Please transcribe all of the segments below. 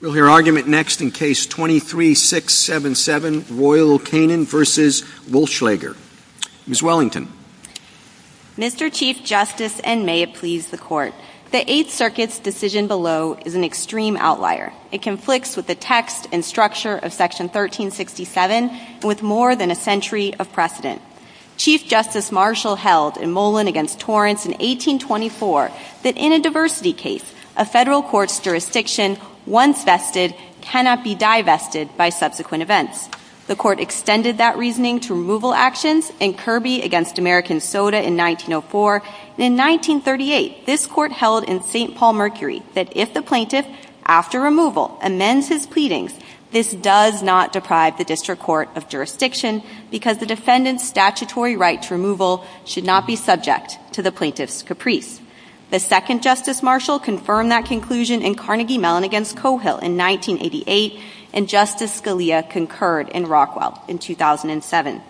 We'll hear argument next in Case 23-677, Royal Canin v. Wullschleger. Ms. Wellington. Mr. Chief Justice, and may it please the Court, the Eighth Circuit's decision below is an extreme outlier. It conflicts with the text and structure of Section 1367 and with more than a century of precedent. Chief Justice Marshall held in Molan v. Torrance in 1824 that in a diversity case, a federal court's jurisdiction, once vested, cannot be divested by subsequent events. The Court extended that reasoning to removal actions in Kirby v. American Soda in 1904. In 1938, this Court held in St. Paul-Mercury that if the plaintiff, after removal, amends his pleadings, this does not deprive the district court of jurisdiction because the defendant's statutory right to removal should not be subject to the plaintiff's caprice. The second Justice Marshall confirmed that conclusion in Carnegie Mellon v. Coehill in 1988, and Justice Scalia concurred in Rockwell in 2007.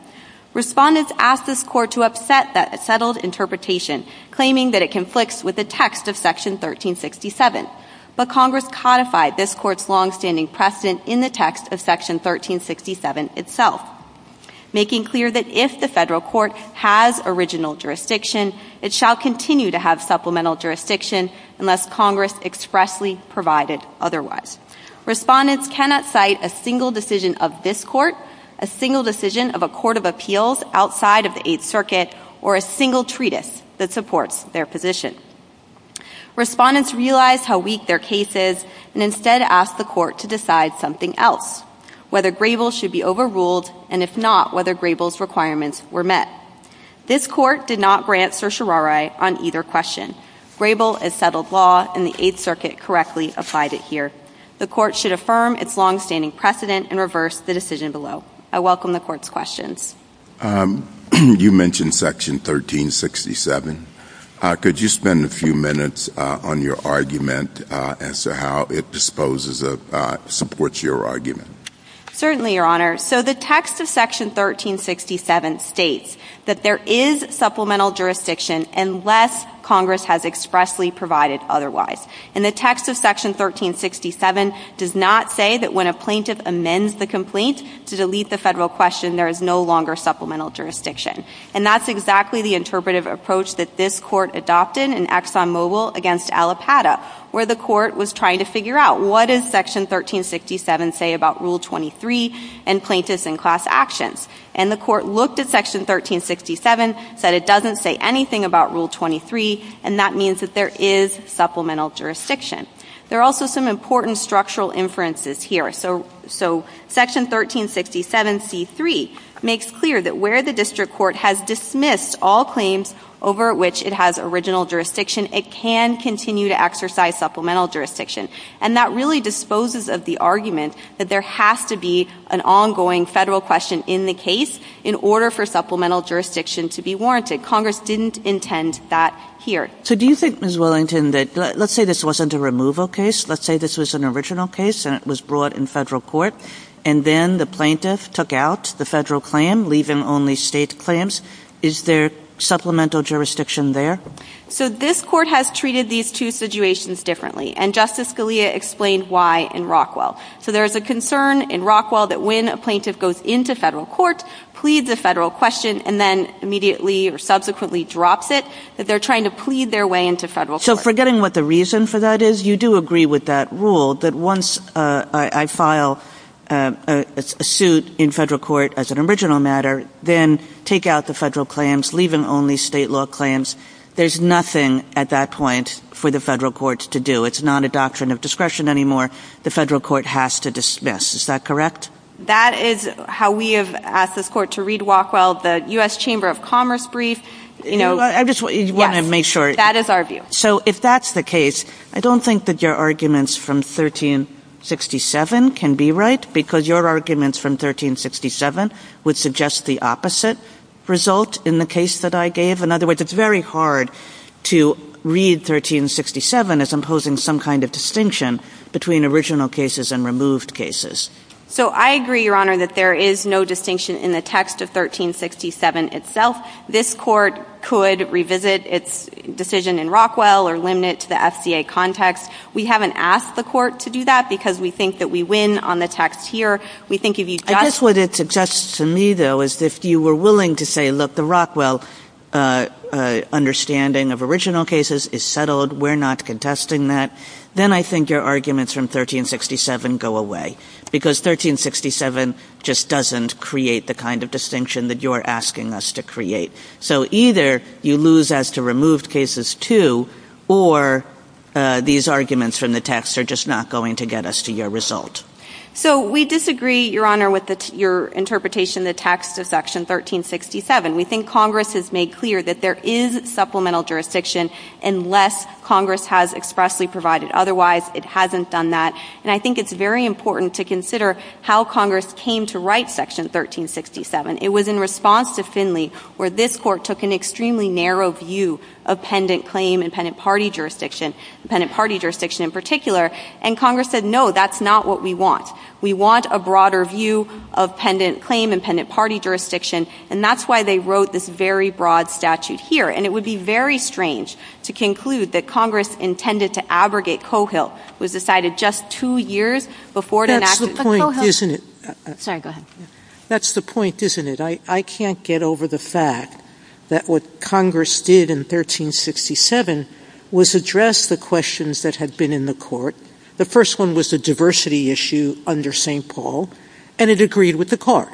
Respondents asked this Court to upset that settled interpretation, claiming that it conflicts with the text of Section 1367. But Congress codified this Court's longstanding precedent in the text of Section 1367 itself, making clear that if the federal court has original jurisdiction, it shall continue to have supplemental jurisdiction unless Congress expressly provided otherwise. Respondents cannot cite a single decision of this Court, a single decision of a court of appeals outside of the Eighth Circuit, or a single treatise that supports their position. Respondents realized how weak their case is and instead asked the Court to decide something else, whether Grable should be overruled, and if not, whether Grable's requirements were met. This Court did not grant certiorari on either question. Grable, as settled law in the Eighth Circuit, correctly applied it here. The Court should affirm its longstanding precedent and reverse the decision below. I welcome the Court's questions. You mentioned Section 1367. Could you spend a few minutes on your argument as to how it disposes of, supports your argument? Certainly, Your Honor. So the text of Section 1367 states that there is supplemental jurisdiction unless Congress has expressly provided otherwise. And the text of Section 1367 does not say that when a plaintiff amends the complaint to delete the federal question, there is no longer supplemental jurisdiction. And that's exactly the interpretive approach that this Court adopted in Exxon Mobil against Alipata, where the Court was trying to figure out what does Section 1367 say about Rule 23 and plaintiffs in class actions. And the Court looked at Section 1367, said it doesn't say anything about Rule 23, and that means that there is supplemental jurisdiction. There are also some important structural inferences here. So Section 1367c3 makes clear that where the district court has dismissed all claims over which it has original jurisdiction, it can continue to exercise supplemental jurisdiction. And that really disposes of the argument that there has to be an ongoing federal question in the case in order for supplemental jurisdiction to be warranted. And Congress didn't intend that here. So do you think, Ms. Wellington, that let's say this wasn't a removal case. Let's say this was an original case and it was brought in federal court, and then the plaintiff took out the federal claim, leaving only state claims. Is there supplemental jurisdiction there? So this Court has treated these two situations differently, and Justice Scalia explained why in Rockwell. So there is a concern in Rockwell that when a plaintiff goes into federal court, pleads a federal question, and then immediately or subsequently drops it, that they're trying to plead their way into federal court. So forgetting what the reason for that is, you do agree with that rule, that once I file a suit in federal court as an original matter, then take out the federal claims, leaving only state law claims. There's nothing at that point for the federal court to do. It's not a doctrine of discretion anymore. The federal court has to dismiss. Is that correct? That is how we have asked this Court to read Rockwell. The U.S. Chamber of Commerce brief, you know, yes. I just want to make sure. That is our view. So if that's the case, I don't think that your arguments from 1367 can be right because your arguments from 1367 would suggest the opposite result in the case that I gave. In other words, it's very hard to read 1367 as imposing some kind of distinction between original cases and removed cases. So I agree, Your Honor, that there is no distinction in the text of 1367 itself. This Court could revisit its decision in Rockwell or limit it to the FCA context. We haven't asked the Court to do that because we think that we win on the text here. We think if you just – I guess what it suggests to me, though, is if you were willing to say, look, the Rockwell understanding of original cases is settled, we're not contesting that, then I think your arguments from 1367 go away because 1367 just doesn't create the kind of distinction that you're asking us to create. So either you lose as to removed cases too or these arguments from the text are just not going to get us to your result. So we disagree, Your Honor, with your interpretation of the text of Section 1367. We think Congress has made clear that there is supplemental jurisdiction unless Congress has expressly provided. Otherwise, it hasn't done that. And I think it's very important to consider how Congress came to write Section 1367. It was in response to Finley where this Court took an extremely narrow view of pendant claim and pendant party jurisdiction, pendant party jurisdiction in particular, and Congress said, no, that's not what we want. We want a broader view of pendant claim and pendant party jurisdiction, and that's why they wrote this very broad statute here. And it would be very strange to conclude that Congress intended to abrogate Cohill. It was decided just two years before it enacted. That's the point, isn't it? Sorry, go ahead. That's the point, isn't it? I can't get over the fact that what Congress did in 1367 was address the questions that had been in the Court. The first one was the diversity issue under St. Paul, and it agreed with the Court.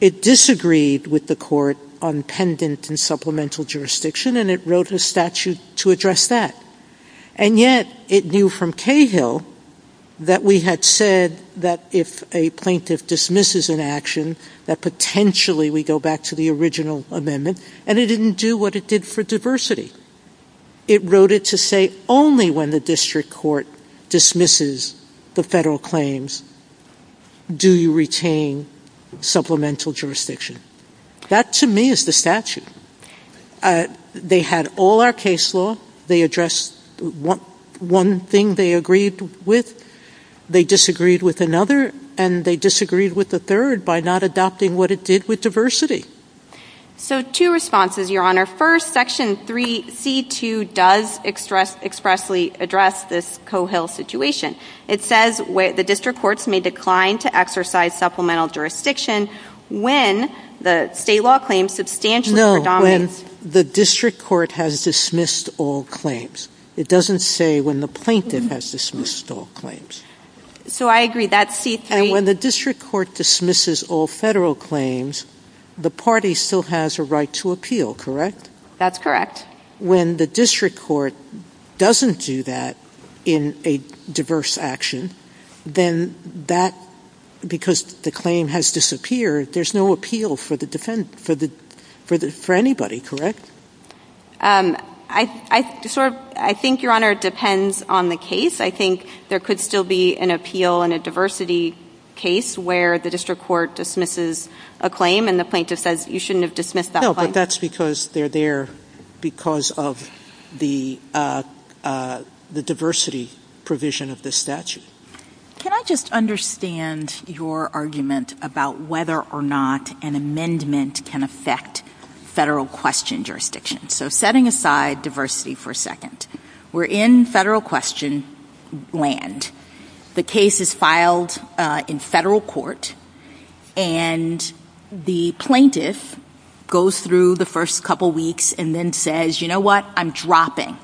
It disagreed with the Court on pendant and supplemental jurisdiction, and it wrote a statute to address that. And yet it knew from Cohill that we had said that if a plaintiff dismisses an action, that potentially we go back to the original amendment, and it didn't do what it did for diversity. It wrote it to say only when the district court dismisses the federal claims do you retain supplemental jurisdiction. That, to me, is the statute. They had all our case law. They addressed one thing they agreed with. They disagreed with another, and they disagreed with the third by not adopting what it did with diversity. So two responses, Your Honor. First, Section 3C2 does expressly address this Cohill situation. It says the district courts may decline to exercise supplemental jurisdiction when the state law claim substantially predominates. No, when the district court has dismissed all claims. It doesn't say when the plaintiff has dismissed all claims. So I agree. That's C3. And when the district court dismisses all federal claims, the party still has a right to appeal, correct? That's correct. But when the district court doesn't do that in a diverse action, then that, because the claim has disappeared, there's no appeal for anybody, correct? I think, Your Honor, it depends on the case. I think there could still be an appeal in a diversity case where the district court dismisses a claim and the plaintiff says you shouldn't have dismissed that claim. No, but that's because they're there because of the diversity provision of the statute. Can I just understand your argument about whether or not an amendment can affect federal question jurisdiction? So setting aside diversity for a second, we're in federal question land. The case is filed in federal court, and the plaintiff goes through the first couple weeks and then says, you know what, I'm dropping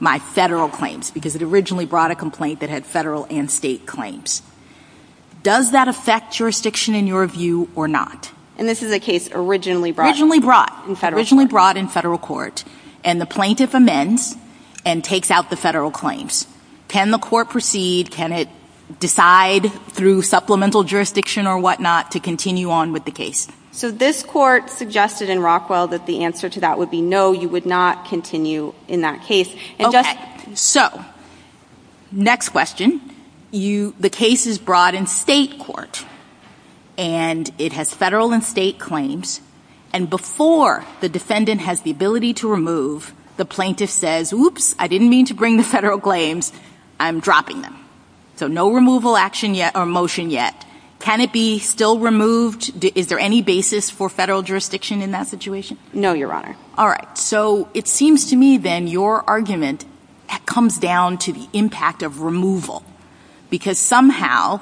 my federal claims because it originally brought a complaint that had federal and state claims. Does that affect jurisdiction in your view or not? And this is a case originally brought in federal court. Originally brought in federal court. And the plaintiff amends and takes out the federal claims. Can the court proceed? Can it decide through supplemental jurisdiction or whatnot to continue on with the case? So this court suggested in Rockwell that the answer to that would be no, you would not continue in that case. Okay, so next question. The case is brought in state court, and it has federal and state claims. And before the defendant has the ability to remove, the plaintiff says, oops, I didn't mean to bring the federal claims. I'm dropping them. So no removal action yet or motion yet. Can it be still removed? Is there any basis for federal jurisdiction in that situation? No, Your Honor. All right. So it seems to me then your argument comes down to the impact of removal. Because somehow,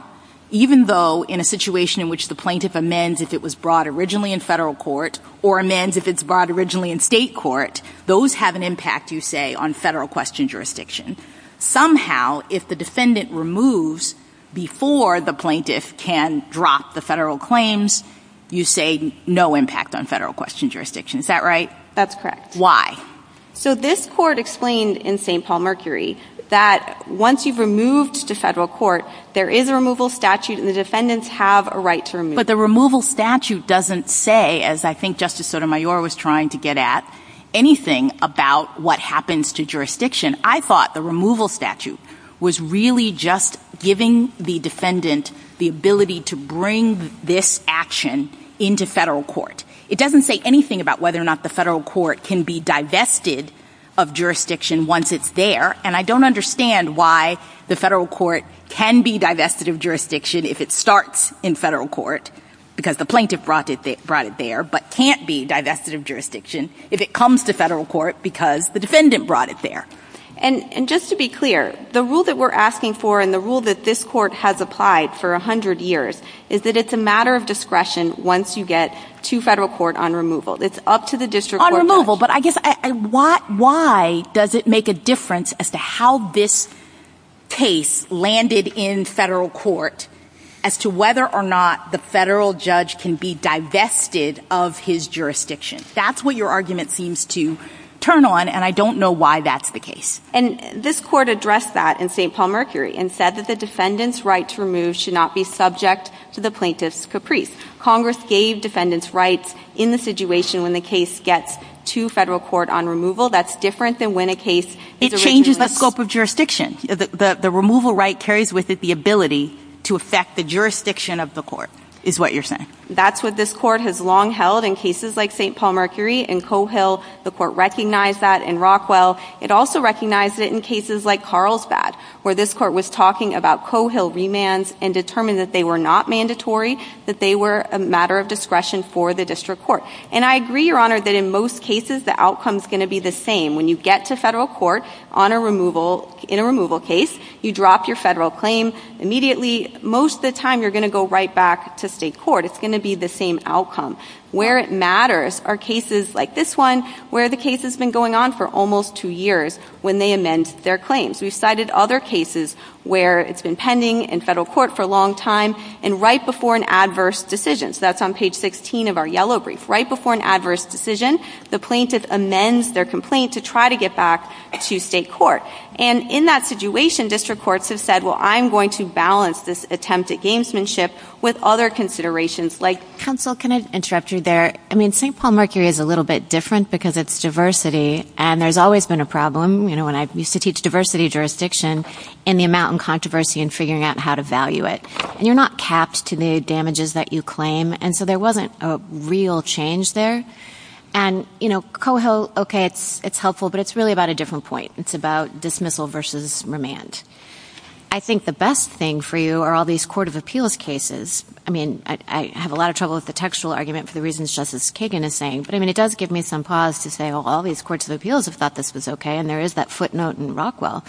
even though in a situation in which the plaintiff amends if it was brought originally in federal court, or amends if it's brought originally in state court, those have an impact, you say, on federal question jurisdiction. Somehow, if the defendant removes before the plaintiff can drop the federal claims, you say no impact on federal question jurisdiction. Is that right? That's correct. Why? So this court explained in St. Paul Mercury that once you've removed to federal court, there is a removal statute, and the defendants have a right to remove. But the removal statute doesn't say, as I think Justice Sotomayor was trying to get at, anything about what happens to jurisdiction. I thought the removal statute was really just giving the defendant the ability to bring this action into federal court. It doesn't say anything about whether or not the federal court can be divested of jurisdiction once it's there. And I don't understand why the federal court can be divested of jurisdiction if it starts in federal court, because the plaintiff brought it there, but can't be divested of jurisdiction if it comes to federal court because the defendant brought it there. And just to be clear, the rule that we're asking for and the rule that this court has applied for 100 years is that it's a matter of discretion once you get to federal court on removal. It's up to the district court judge. But I guess why does it make a difference as to how this case landed in federal court as to whether or not the federal judge can be divested of his jurisdiction? That's what your argument seems to turn on, and I don't know why that's the case. And this court addressed that in St. Paul Mercury and said that the defendant's right to remove should not be subject to the plaintiff's caprice. Congress gave defendants rights in the situation when the case gets to federal court on removal. That's different than when a case is originally... It changes the scope of jurisdiction. The removal right carries with it the ability to affect the jurisdiction of the court, is what you're saying. That's what this court has long held in cases like St. Paul Mercury and Coe Hill. The court recognized that in Rockwell. It also recognized it in cases like Carlsbad, where this court was talking about Coe Hill remands and determined that they were not mandatory, that they were a matter of discretion for the district court. And I agree, Your Honor, that in most cases the outcome's going to be the same. When you get to federal court in a removal case, you drop your federal claim immediately. Most of the time you're going to go right back to state court. It's going to be the same outcome. Where it matters are cases like this one where the case has been going on for almost two years when they amend their claims. We've cited other cases where it's been pending in federal court for a long time and right before an adverse decision. So that's on page 16 of our yellow brief. Right before an adverse decision, the plaintiff amends their complaint to try to get back to state court. And in that situation, district courts have said, well, I'm going to balance this attempt at gamesmanship with other considerations like Counsel, can I interrupt you there? I mean, St. Paul Mercury is a little bit different because it's diversity, and there's always been a problem, you know, when I used to teach diversity jurisdiction, in the amount of controversy in figuring out how to value it. And you're not capped to the damages that you claim, and so there wasn't a real change there. And, you know, Coe Hill, okay, it's helpful, but it's really about a different point. It's about dismissal versus remand. I think the best thing for you are all these court of appeals cases. I mean, I have a lot of trouble with the textual argument for the reasons Justice Kagan is saying, but, I mean, it does give me some pause to say, well, all these courts of appeals have thought this was okay, and there is that footnote in Rockwell.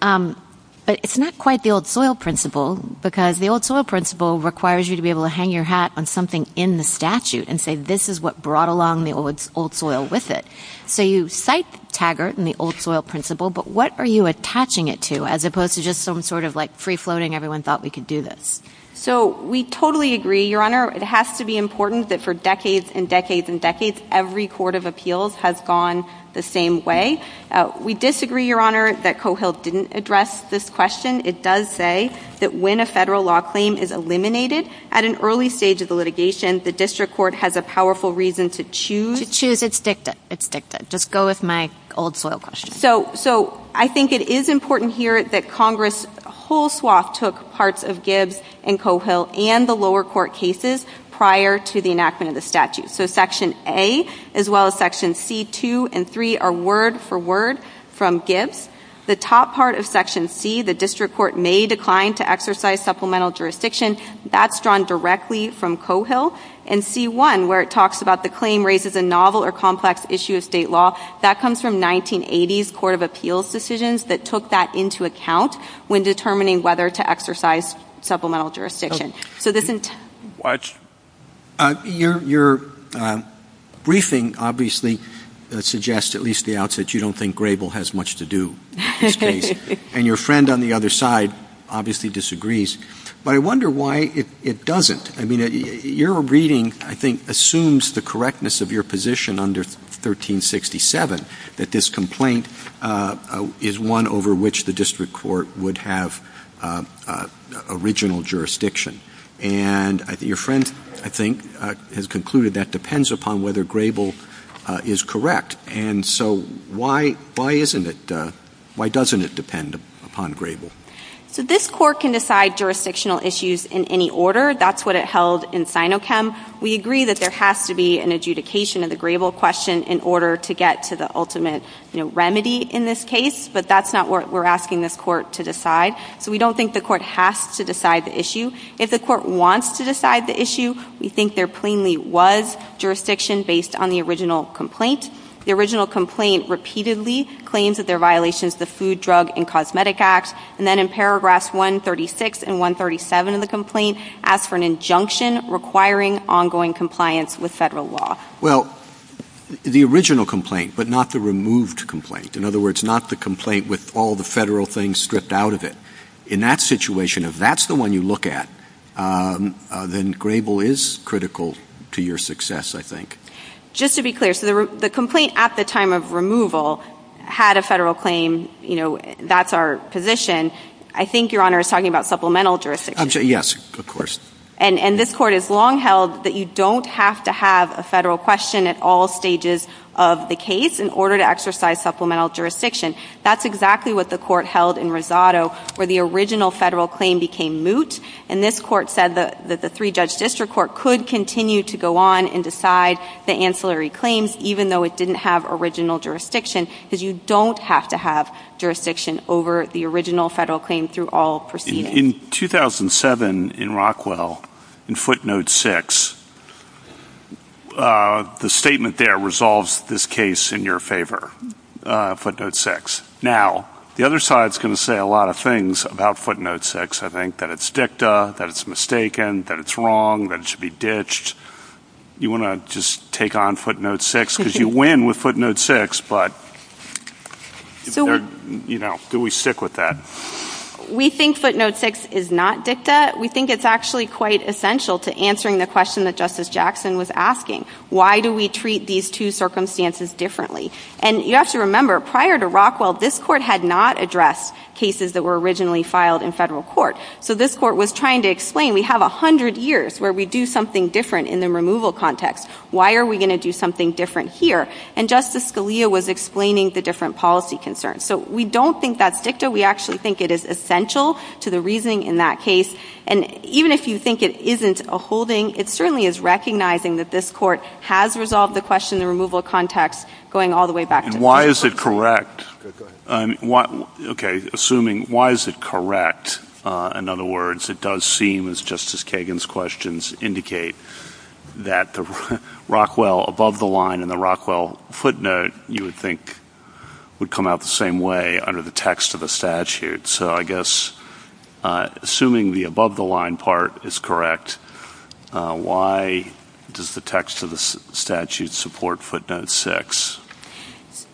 But it's not quite the old soil principle because the old soil principle requires you to be able to hang your hat on something in the statute and say this is what brought along the old soil with it. So you cite Taggart and the old soil principle, but what are you attaching it to, as opposed to just some sort of, like, free-floating, everyone thought we could do this? So we totally agree, Your Honor. It has to be important that for decades and decades and decades, every court of appeals has gone the same way. We disagree, Your Honor, that Coe Hill didn't address this question. It does say that when a federal law claim is eliminated, at an early stage of the litigation, the district court has a powerful reason to choose It's dicta. It's dicta. Just go with my old soil question. So I think it is important here that Congress whole swath took parts of Gibbs and Coe Hill and the lower court cases prior to the enactment of the statute. So Section A, as well as Section C, 2, and 3 are word for word from Gibbs. The top part of Section C, the district court may decline to exercise supplemental jurisdiction, that's drawn directly from Coe Hill. And C-1, where it talks about the claim raises a novel or complex issue of state law, that comes from 1980s court of appeals decisions that took that into account when determining whether to exercise supplemental jurisdiction. So this entails What? Your briefing obviously suggests, at least at the outset, you don't think Grable has much to do in this case. And your friend on the other side obviously disagrees. But I wonder why it doesn't. I mean, your reading, I think, assumes the correctness of your position under 1367 that this complaint is one over which the district court would have original jurisdiction. And your friend, I think, has concluded that depends upon whether Grable is correct. And so why isn't it, why doesn't it depend upon Grable? So this court can decide jurisdictional issues in any order. That's what it held in Sinochem. We agree that there has to be an adjudication of the Grable question in order to get to the ultimate remedy in this case. But that's not what we're asking this court to decide. So we don't think the court has to decide the issue. If the court wants to decide the issue, we think there plainly was jurisdiction based on the original complaint. The original complaint repeatedly claims that there are violations of the Food, Drug, and Cosmetic Act. And then in paragraphs 136 and 137 of the complaint asks for an injunction requiring ongoing compliance with federal law. Well, the original complaint, but not the removed complaint. In other words, not the complaint with all the federal things stripped out of it. In that situation, if that's the one you look at, then Grable is critical to your success, I think. Just to be clear, so the complaint at the time of removal had a federal claim, you know, that's our position. I think Your Honor is talking about supplemental jurisdiction. Yes, of course. And this court has long held that you don't have to have a federal question at all stages of the case in order to exercise supplemental jurisdiction. That's exactly what the court held in Rosado, where the original federal claim became moot. And this court said that the three-judge district court could continue to go on and decide the ancillary claims, even though it didn't have original jurisdiction, because you don't have to have jurisdiction over the original federal claim through all proceedings. In 2007, in Rockwell, in footnote 6, the statement there resolves this case in your favor, footnote 6. Now, the other side is going to say a lot of things about footnote 6, I think, that it's dicta, that it's mistaken, that it's wrong, that it should be ditched. You want to just take on footnote 6, because you win with footnote 6, but, you know, do we stick with that? We think footnote 6 is not dicta. We think it's actually quite essential to answering the question that Justice Jackson was asking. Why do we treat these two circumstances differently? And you have to remember, prior to Rockwell, this court had not addressed cases that were originally filed in federal court. So this court was trying to explain, we have 100 years where we do something different in the removal context. Why are we going to do something different here? And Justice Scalia was explaining the different policy concerns. So we don't think that's dicta. We actually think it is essential to the reasoning in that case. And even if you think it isn't a holding, it certainly is recognizing that this court has resolved the question in the removal context, going all the way back to it. And why is it correct? Go ahead. Okay. Assuming why is it correct? In other words, it does seem, as Justice Kagan's questions indicate, that the Rockwell above the line and the Rockwell footnote, you would think, would come out the same way under the text of the statute. So I guess, assuming the above the line part is correct, why does the text of the statute support footnote 6?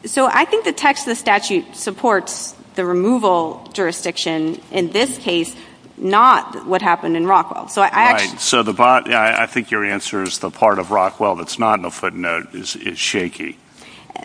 So I think the text of the statute supports the removal jurisdiction in this case, not what happened in Rockwell. Right. So I think your answer is the part of Rockwell that's not in the footnote is shaky.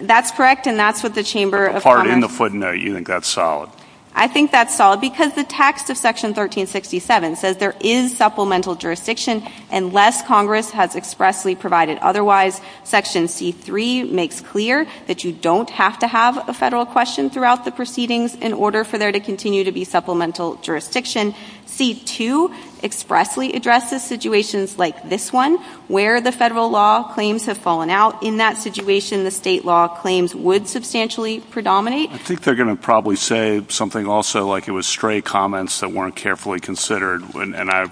That's correct, and that's what the Chamber of Commerce… The part in the footnote, you think that's solid. I think that's solid because the text of Section 1367 says there is supplemental jurisdiction unless Congress has expressly provided otherwise. Section C-3 makes clear that you don't have to have a federal question throughout the proceedings in order for there to continue to be supplemental jurisdiction. C-2 expressly addresses situations like this one where the federal law claims have fallen out. In that situation, the state law claims would substantially predominate. I think they're going to probably say something also like it was stray comments that weren't carefully considered, and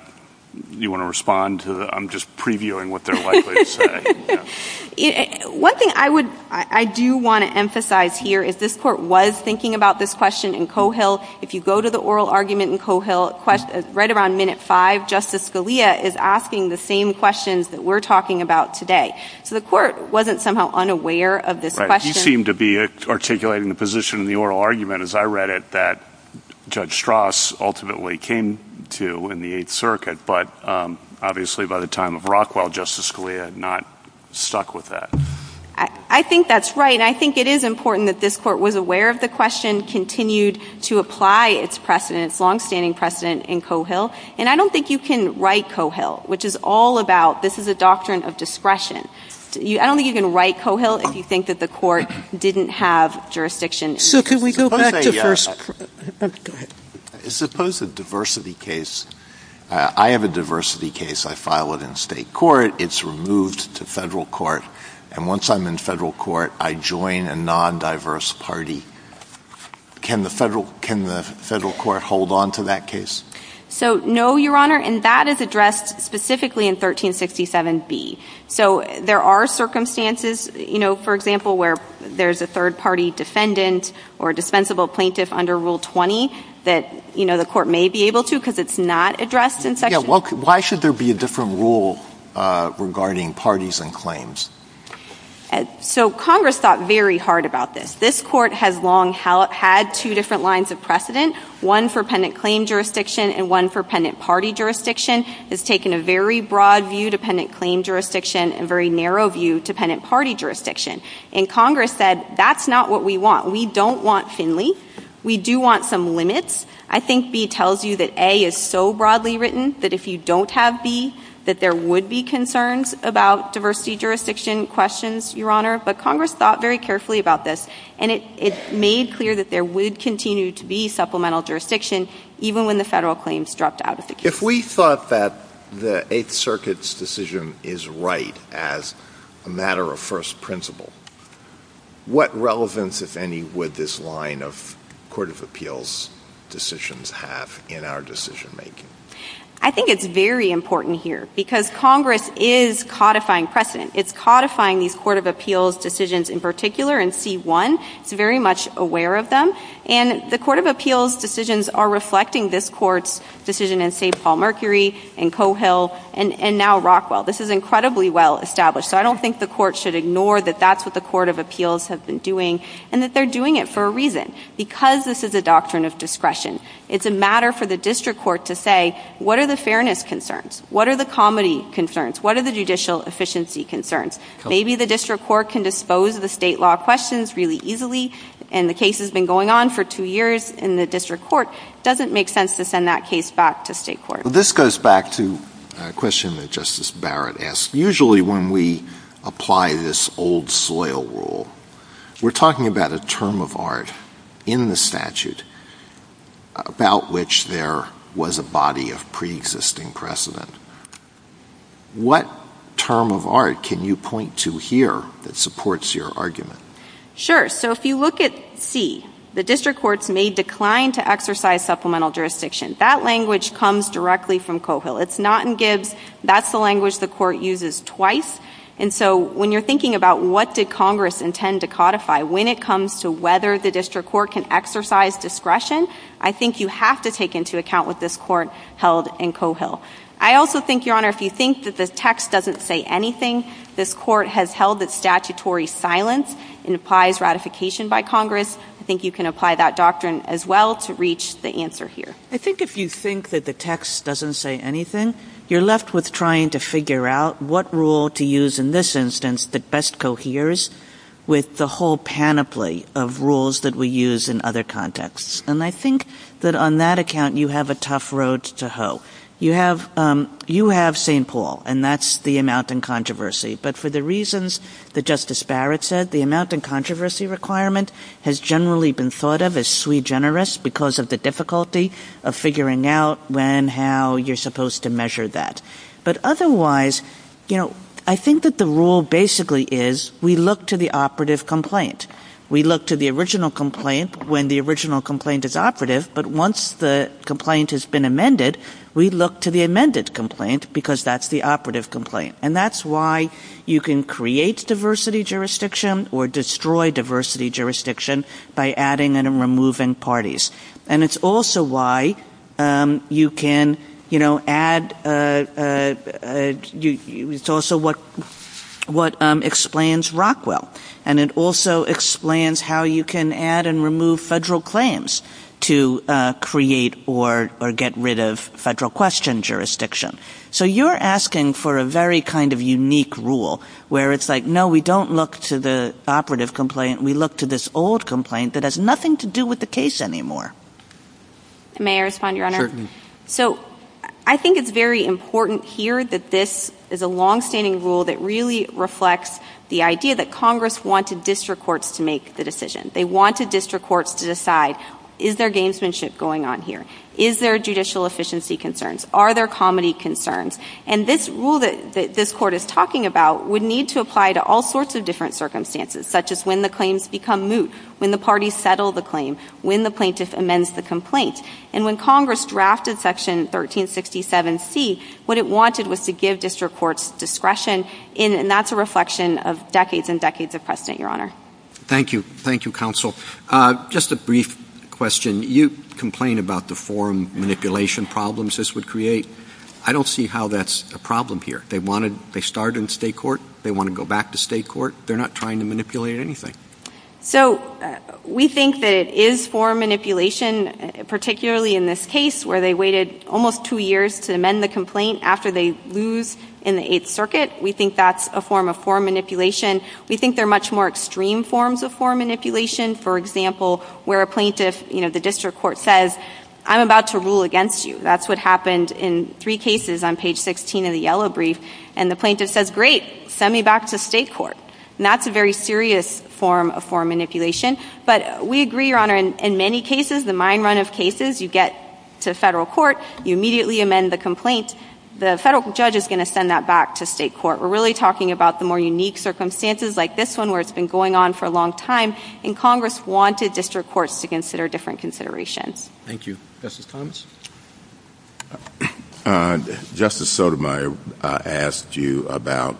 you want to respond to that? I'm just previewing what they're likely to say. One thing I do want to emphasize here is this Court was thinking about this question in Cohill. If you go to the oral argument in Cohill, right around minute 5, Justice Scalia is asking the same questions that we're talking about today. So the Court wasn't somehow unaware of this question. You seem to be articulating the position in the oral argument, as I read it, that Judge Strass ultimately came to in the Eighth Circuit, but obviously by the time of Rockwell, Justice Scalia had not stuck with that. I think that's right, and I think it is important that this Court was aware of the question, continued to apply its precedent, its longstanding precedent in Cohill, and I don't think you can write Cohill, which is all about this is a doctrine of discretion. I don't think you can write Cohill if you think that the Court didn't have jurisdiction. Sotomayor, go ahead. Suppose a diversity case, I have a diversity case, I file it in State court, it's removed to Federal court, and once I'm in Federal court, I join a non-diverse party. Can the Federal court hold on to that case? So, no, Your Honor, and that is addressed specifically in 1367B. So there are circumstances, you know, for example, where there's a third-party defendant or dispensable plaintiff under Rule 20 that, you know, the Court may be able to, because it's not addressed in Section 1367B. Why should there be a different rule regarding parties and claims? So Congress thought very hard about this. This Court has long had two different lines of precedent, one for pendant claim jurisdiction and one for pendant party jurisdiction. It's taken a very broad view to pendant claim jurisdiction and very narrow view to pendant party jurisdiction. And Congress said, that's not what we want. We don't want Finley. We do want some limits. I think B tells you that A is so broadly written that if you don't have B, that there would be concerns about diversity jurisdiction questions, Your Honor. But Congress thought very carefully about this. And it made clear that there would continue to be supplemental jurisdiction, even when the federal claims dropped out of the case. If we thought that the Eighth Circuit's decision is right as a matter of first principle, what relevance, if any, would this line of Court of Appeals decisions have in our decision-making? I think it's very important here, because Congress is codifying precedent. It's codifying these Court of Appeals decisions in particular in C-1. It's very much aware of them. And the Court of Appeals decisions are reflecting this Court's decision in St. Paul-Mercury, in Coe Hill, and now Rockwell. This is incredibly well established. So I don't think the Court should ignore that that's what the Court of Appeals have been doing, and that they're doing it for a reason, because this is a doctrine of discretion. It's a matter for the district court to say, what are the fairness concerns? What are the comity concerns? What are the judicial efficiency concerns? Maybe the district court can dispose of the state law questions really easily, and the case has been going on for two years in the district court. It doesn't make sense to send that case back to state court. This goes back to a question that Justice Barrett asked. Usually when we apply this old soil rule, we're talking about a term of art in the statute about which there was a body of preexisting precedent. What term of art can you point to here that supports your argument? Sure. So if you look at C, the district courts may decline to exercise supplemental jurisdiction. That language comes directly from Coe Hill. It's not in Gibbs. That's the language the Court uses twice. And so when you're thinking about what did Congress intend to codify, when it comes to whether the district court can exercise discretion, I think you have to take into account what this Court held in Coe Hill. I also think, Your Honor, if you think that the text doesn't say anything, this Court has held that statutory silence implies ratification by Congress. I think you can apply that doctrine as well to reach the answer here. I think if you think that the text doesn't say anything, you're left with trying to figure out what rule to use in this instance that best coheres with the whole panoply of rules that we use in other contexts. And I think that on that account, you have a tough road to hoe. You have St. Paul, and that's the amount in controversy. But for the reasons that Justice Barrett said, the amount in controversy requirement has generally been thought of as sui generis because of the difficulty of figuring out when, how you're supposed to measure that. But otherwise, you know, I think that the rule basically is we look to the operative complaint. We look to the original complaint when the original complaint is operative, but once the complaint has been amended, we look to the amended complaint because that's the operative complaint. And that's why you can create diversity jurisdiction or destroy diversity jurisdiction by adding and removing parties. And it's also why you can, you know, add, it's also what explains Rockwell. And it also explains how you can add and remove federal claims to create or get rid of federal question jurisdiction. So you're asking for a very kind of unique rule where it's like, no, we don't look to the operative complaint. We look to this old complaint that has nothing to do with the case anymore. May I respond, Your Honor? Certainly. So I think it's very important here that this is a longstanding rule that really reflects the idea that Congress wanted district courts to make the decision. They wanted district courts to decide, is there gamesmanship going on here? Is there judicial efficiency concerns? Are there comedy concerns? And this rule that this Court is talking about would need to apply to all sorts of different circumstances, such as when the claims become moot, when the parties settle the claim, when the plaintiff amends the complaint. And when Congress drafted Section 1367C, what it wanted was to give district courts discretion. And that's a reflection of decades and decades of precedent, Your Honor. Thank you. Thank you, Counsel. Just a brief question. You complain about the forum manipulation problems this would create. I don't see how that's a problem here. They wanted, they started in state court. They want to go back to state court. They're not trying to manipulate anything. So we think that it is forum manipulation, particularly in this case where they waited almost two years to amend the complaint after they lose in the Eighth Circuit. We think that's a form of forum manipulation. We think there are much more extreme forms of forum manipulation. For example, where a plaintiff, you know, the district court says, I'm about to rule against you. That's what happened in three cases on page 16 of the yellow brief. And the plaintiff says, great, send me back to state court. And that's a very serious form of forum manipulation. But we agree, Your Honor, in many cases, the mine run of cases, you get to federal court, you immediately amend the complaint, the federal judge is going to send that back to state court. We're really talking about the more unique circumstances like this one where it's been going on for a long time, and Congress wanted district courts to consider different considerations. Thank you. Justice Thomas? Justice Sotomayor asked you about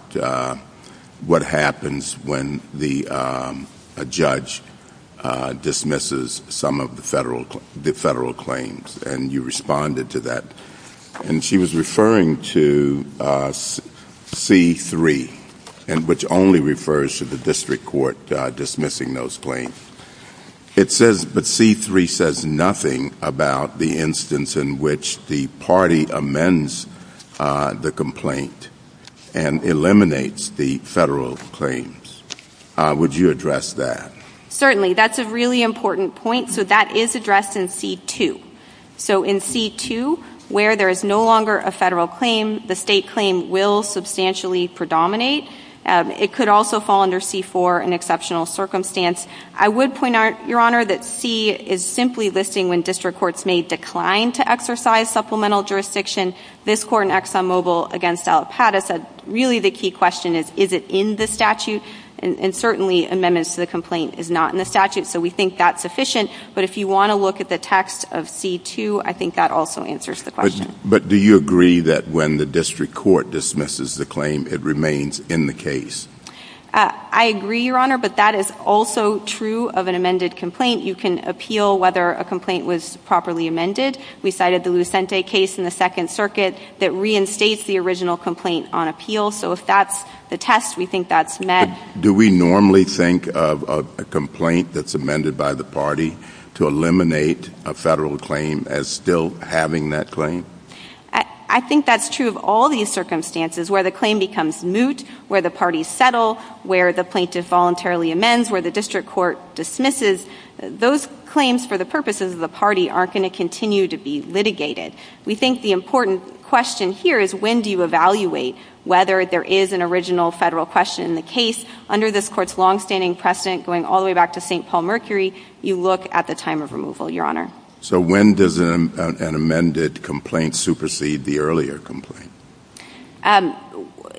what happens when a judge dismisses some of the federal claims. And you responded to that. And she was referring to C-3, which only refers to the district court dismissing those claims. It says, but C-3 says nothing about the instance in which the party amends the complaint and eliminates the federal claims. Would you address that? Certainly. That's a really important point. So that is addressed in C-2. So in C-2, where there is no longer a federal claim, the state claim will substantially predominate. It could also fall under C-4, an exceptional circumstance. I would point out, Your Honor, that C is simply listing when district courts may decline to exercise supplemental jurisdiction. This court in ExxonMobil against Allapattah said, really the key question is, is it in the statute? And certainly amendments to the complaint is not in the statute, so we think that's sufficient. But if you want to look at the text of C-2, I think that also answers the question. But do you agree that when the district court dismisses the claim, it remains in the case? I agree, Your Honor, but that is also true of an amended complaint. You can appeal whether a complaint was properly amended. We cited the Lucente case in the Second Circuit that reinstates the original complaint on appeal. So if that's the test, we think that's met. Do we normally think of a complaint that's amended by the party to eliminate a federal claim as still having that claim? I think that's true of all these circumstances where the claim becomes moot, where the parties settle, where the plaintiff voluntarily amends, where the district court dismisses. Those claims, for the purposes of the party, aren't going to continue to be litigated. We think the important question here is, when do you evaluate whether there is an original federal question in the case? Under this Court's longstanding precedent, going all the way back to St. Paul Mercury, you look at the time of removal, Your Honor. So when does an amended complaint supersede the earlier complaint?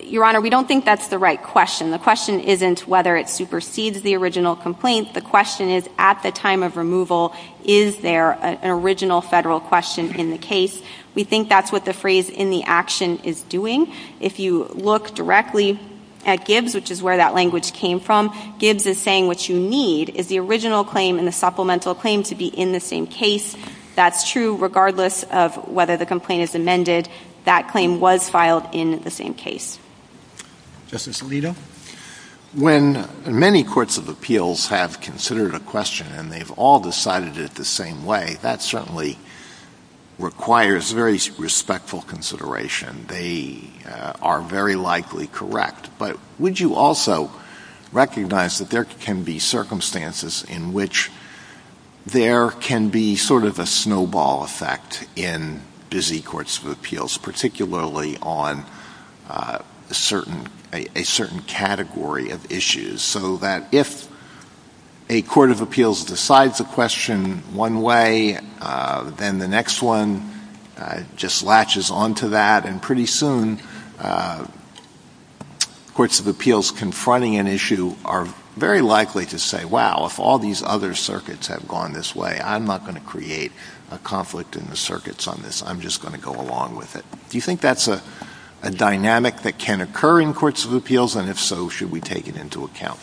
Your Honor, we don't think that's the right question. The question isn't whether it supersedes the original complaint. The question is, at the time of removal, is there an original federal question in the case? We think that's what the phrase, in the action, is doing. If you look directly at Gibbs, which is where that language came from, Gibbs is saying what you need is the original claim and the supplemental claim to be in the same case. That's true regardless of whether the complaint is amended. That claim was filed in the same case. Justice Alito? When many courts of appeals have considered a question and they've all decided it the same way, that certainly requires very respectful consideration. They are very likely correct. But would you also recognize that there can be circumstances in which there can be sort of a snowball effect in busy courts of appeals, particularly on a certain category of issues, so that if a court of appeals decides a question one way, then the next one just latches onto that, and pretty soon courts of appeals confronting an issue are very likely to say, wow, if all these other circuits have gone this way, I'm not going to create a conflict in the circuits on this. I'm just going to go along with it. Do you think that's a dynamic that can occur in courts of appeals, and if so, should we take it into account?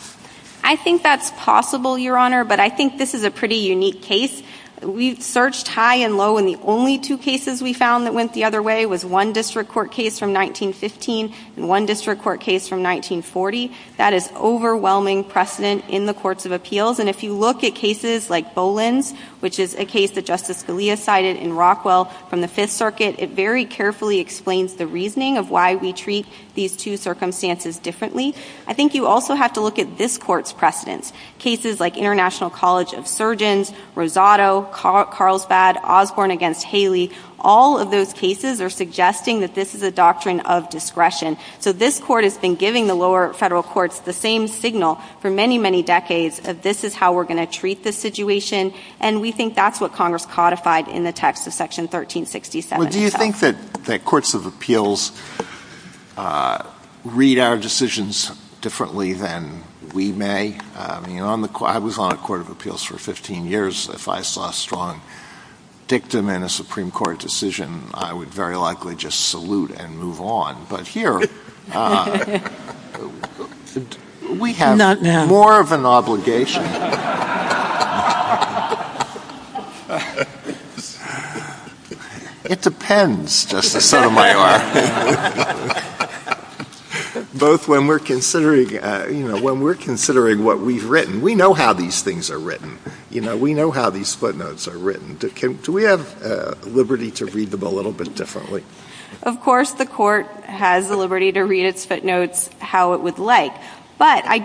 I think that's possible, Your Honor, but I think this is a pretty unique case. We've searched high and low, and the only two cases we found that went the other way was one district court case from 1915 and one district court case from 1940. That is overwhelming precedent in the courts of appeals, and if you look at cases like Boland's, which is a case that Justice Scalia cited in Rockwell from the Fifth Circuit, it very carefully explains the reasoning of why we treat these two circumstances differently. I think you also have to look at this Court's precedents, cases like International College of Surgeons, Rosado, Carlsbad, Osborne v. Haley. All of those cases are suggesting that this is a doctrine of discretion. So this Court has been giving the lower federal courts the same signal for many, many decades of this is how we're going to treat this situation, and we think that's what Congress codified in the text of Section 1367. Well, do you think that courts of appeals read our decisions differently than we may? I was on a court of appeals for 15 years. If I saw a strong dictum in a Supreme Court decision, I would very likely just salute and move on. But here, we have more of an obligation. It depends, Justice Sotomayor. Both when we're considering what we've written. We know how these things are written. We know how these split notes are written. Do we have liberty to read them a little bit differently? Of course, the Court has the liberty to read its footnotes how it would like. But I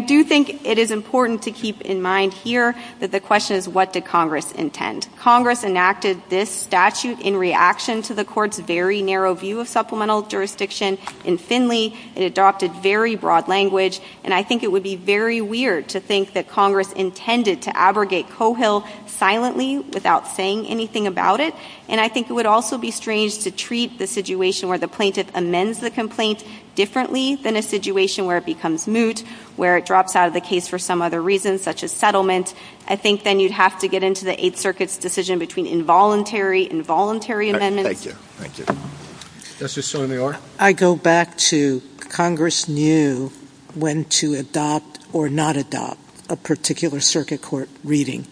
do think it is important to keep in mind here that the question is what did Congress intend? Congress enacted this statute in reaction to the Court's very narrow view of supplemental jurisdiction. In Finley, it adopted very broad language, and I think it would be very weird to think that Congress intended to abrogate Cohill silently without saying anything about it. And I think it would also be strange to treat the situation where the plaintiff amends the complaint differently than a situation where it becomes moot, where it drops out of the case for some other reason, such as settlement. I think then you'd have to get into the Eighth Circuit's decision between involuntary, involuntary amendments. Thank you. Thank you. Justice Sotomayor? I go back to Congress knew when to adopt or not adopt a particular circuit court reading,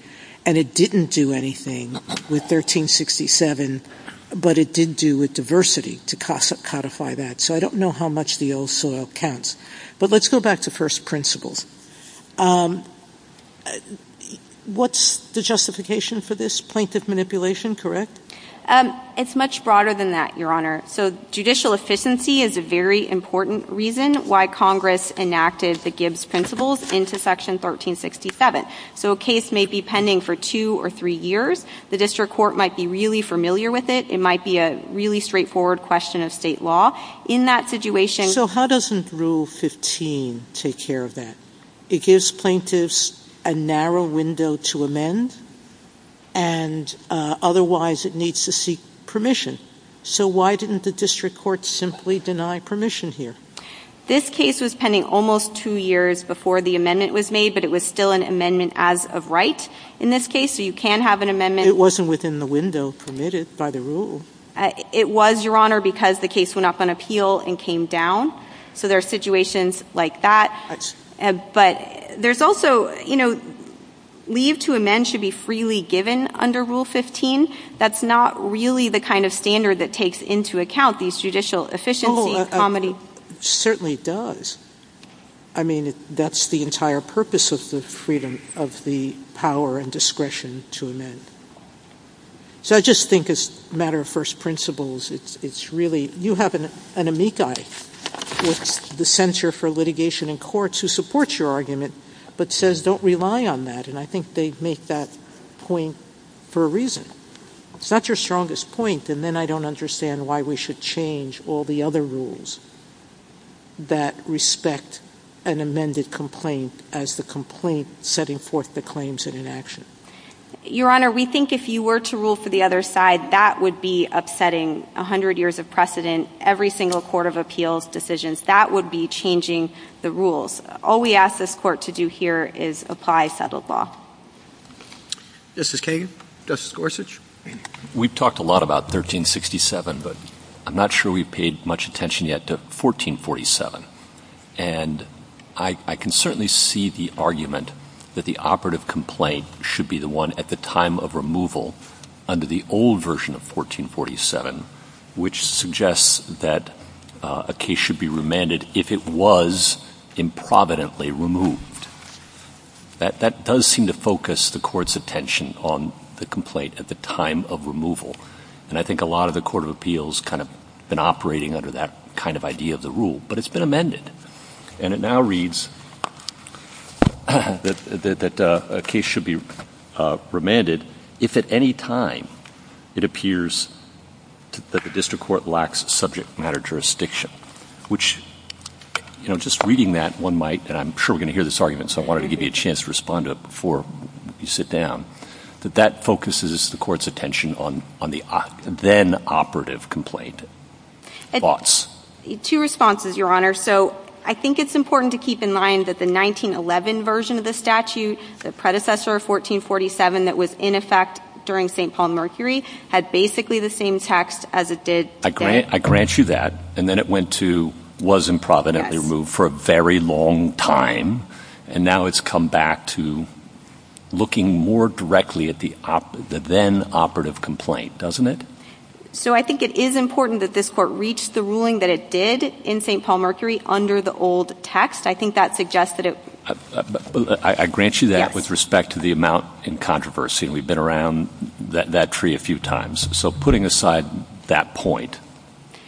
and it didn't do anything with 1367, but it did do with diversity to codify that. So I don't know how much the old soil counts. But let's go back to first principles. What's the justification for this plaintiff manipulation, correct? It's much broader than that, Your Honor. So judicial efficiency is a very important reason why Congress enacted the Gibbs principles into Section 1367. So a case may be pending for two or three years. The district court might be really familiar with it. It might be a really straightforward question of state law. In that situation — So how doesn't Rule 15 take care of that? It gives plaintiffs a narrow window to amend, and otherwise it needs to seek permission. So why didn't the district court simply deny permission here? This case was pending almost two years before the amendment was made, but it was still an amendment as of right in this case. So you can have an amendment — It wasn't within the window permitted by the rule. It was, Your Honor, because the case went up on appeal and came down. So there are situations like that. But there's also — leave to amend should be freely given under Rule 15. That's not really the kind of standard that takes into account these judicial efficiencies. Well, it certainly does. I mean, that's the entire purpose of the freedom of the power and discretion to amend. So I just think it's a matter of first principles. It's really — you have an amici with the Center for Litigation in Courts who supports your argument but says don't rely on that. And I think they make that point for a reason. It's not your strongest point, and then I don't understand why we should change all the other rules that respect an amended complaint as the complaint setting forth the claims and inaction. Your Honor, we think if you were to rule for the other side, that would be upsetting. A hundred years of precedent, every single court of appeals decisions, that would be changing the rules. All we ask this Court to do here is apply settled law. Justice Kagan. Justice Gorsuch. We've talked a lot about 1367, but I'm not sure we've paid much attention yet to 1447. And I can certainly see the argument that the operative complaint should be the one at the time of removal under the old version of 1447, which suggests that a case should be remanded if it was improvidently removed. That does seem to focus the Court's attention on the complaint at the time of removal. And I think a lot of the court of appeals kind of been operating under that kind of idea of the rule, but it's been amended. And it now reads that a case should be remanded if at any time it appears that the district court lacks subject matter jurisdiction, which, you know, just reading that, one might, and I'm sure we're going to hear this argument, so I wanted to give you a chance to respond to it before you sit down, that that focuses the Court's attention on the then operative complaint. Thoughts? Two responses, Your Honor. So I think it's important to keep in mind that the 1911 version of the statute, the predecessor of 1447, that was in effect during St. Paul and Mercury, had basically the same text as it did today. I grant you that. And then it went to was improvidently removed for a very long time, and now it's come back to looking more directly at the then operative complaint, doesn't it? So I think it is important that this Court reach the ruling that it did in St. Paul and Mercury under the old text. I think that suggests that it— I grant you that with respect to the amount in controversy, and we've been around that tree a few times. So putting aside that point,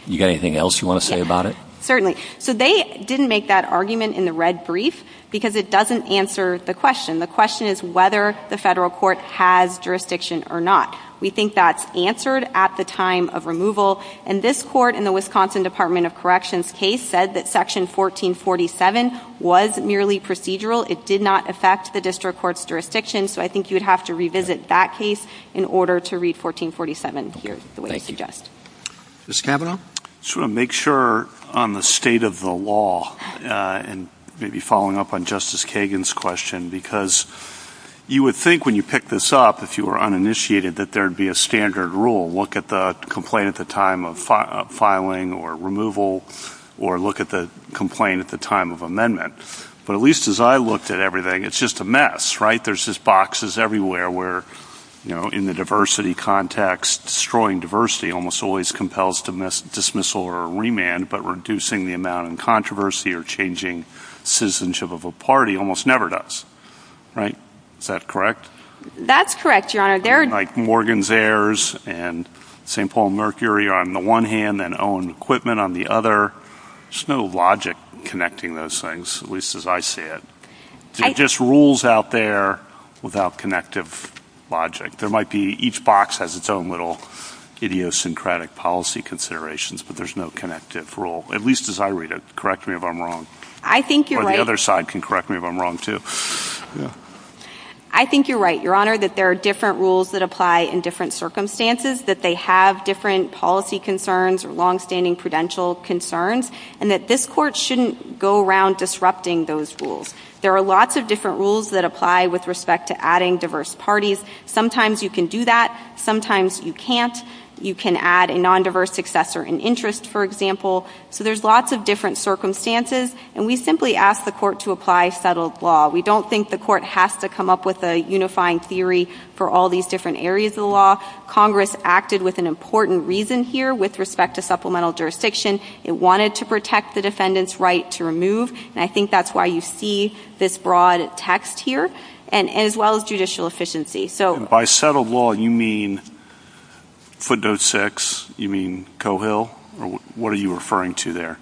you got anything else you want to say about it? Certainly. So they didn't make that argument in the red brief because it doesn't answer the question. The question is whether the federal court has jurisdiction or not. We think that's answered at the time of removal, and this Court in the Wisconsin Department of Corrections case said that Section 1447 was merely procedural. It did not affect the district court's jurisdiction, so I think you would have to revisit that case in order to read 1447 here the way you suggest. Mr. Cavanaugh? I just want to make sure on the state of the law and maybe following up on Justice Kagan's question because you would think when you pick this up, if you were uninitiated, that there would be a standard rule. Look at the complaint at the time of filing or removal or look at the complaint at the time of amendment. But at least as I looked at everything, it's just a mess, right? There's just boxes everywhere where, you know, in the diversity context, destroying diversity almost always compels dismissal or remand, but reducing the amount in controversy or changing citizenship of a party almost never does, right? Is that correct? That's correct, Your Honor. Like Morgan's Heirs and St. Paul and Mercury on the one hand and Owen Equipment on the other. There's no logic connecting those things, at least as I see it. It's just rules out there without connective logic. There might be each box has its own little idiosyncratic policy considerations, but there's no connective rule, at least as I read it. Correct me if I'm wrong. I think you're right. Or the other side can correct me if I'm wrong, too. I think you're right, Your Honor, that there are different rules that apply in different circumstances, that they have different policy concerns or longstanding prudential concerns, and that this Court shouldn't go around disrupting those rules. There are lots of different rules that apply with respect to adding diverse parties. Sometimes you can do that. Sometimes you can't. You can add a nondiverse successor in interest, for example. So there's lots of different circumstances, and we simply ask the Court to apply settled law. We don't think the Court has to come up with a unifying theory for all these different areas of the law. Congress acted with an important reason here with respect to supplemental jurisdiction. It wanted to protect the defendant's right to remove, and I think that's why you see this broad text here, as well as judicial efficiency. By settled law, you mean footnote 6? You mean Coehill? What are you referring to there?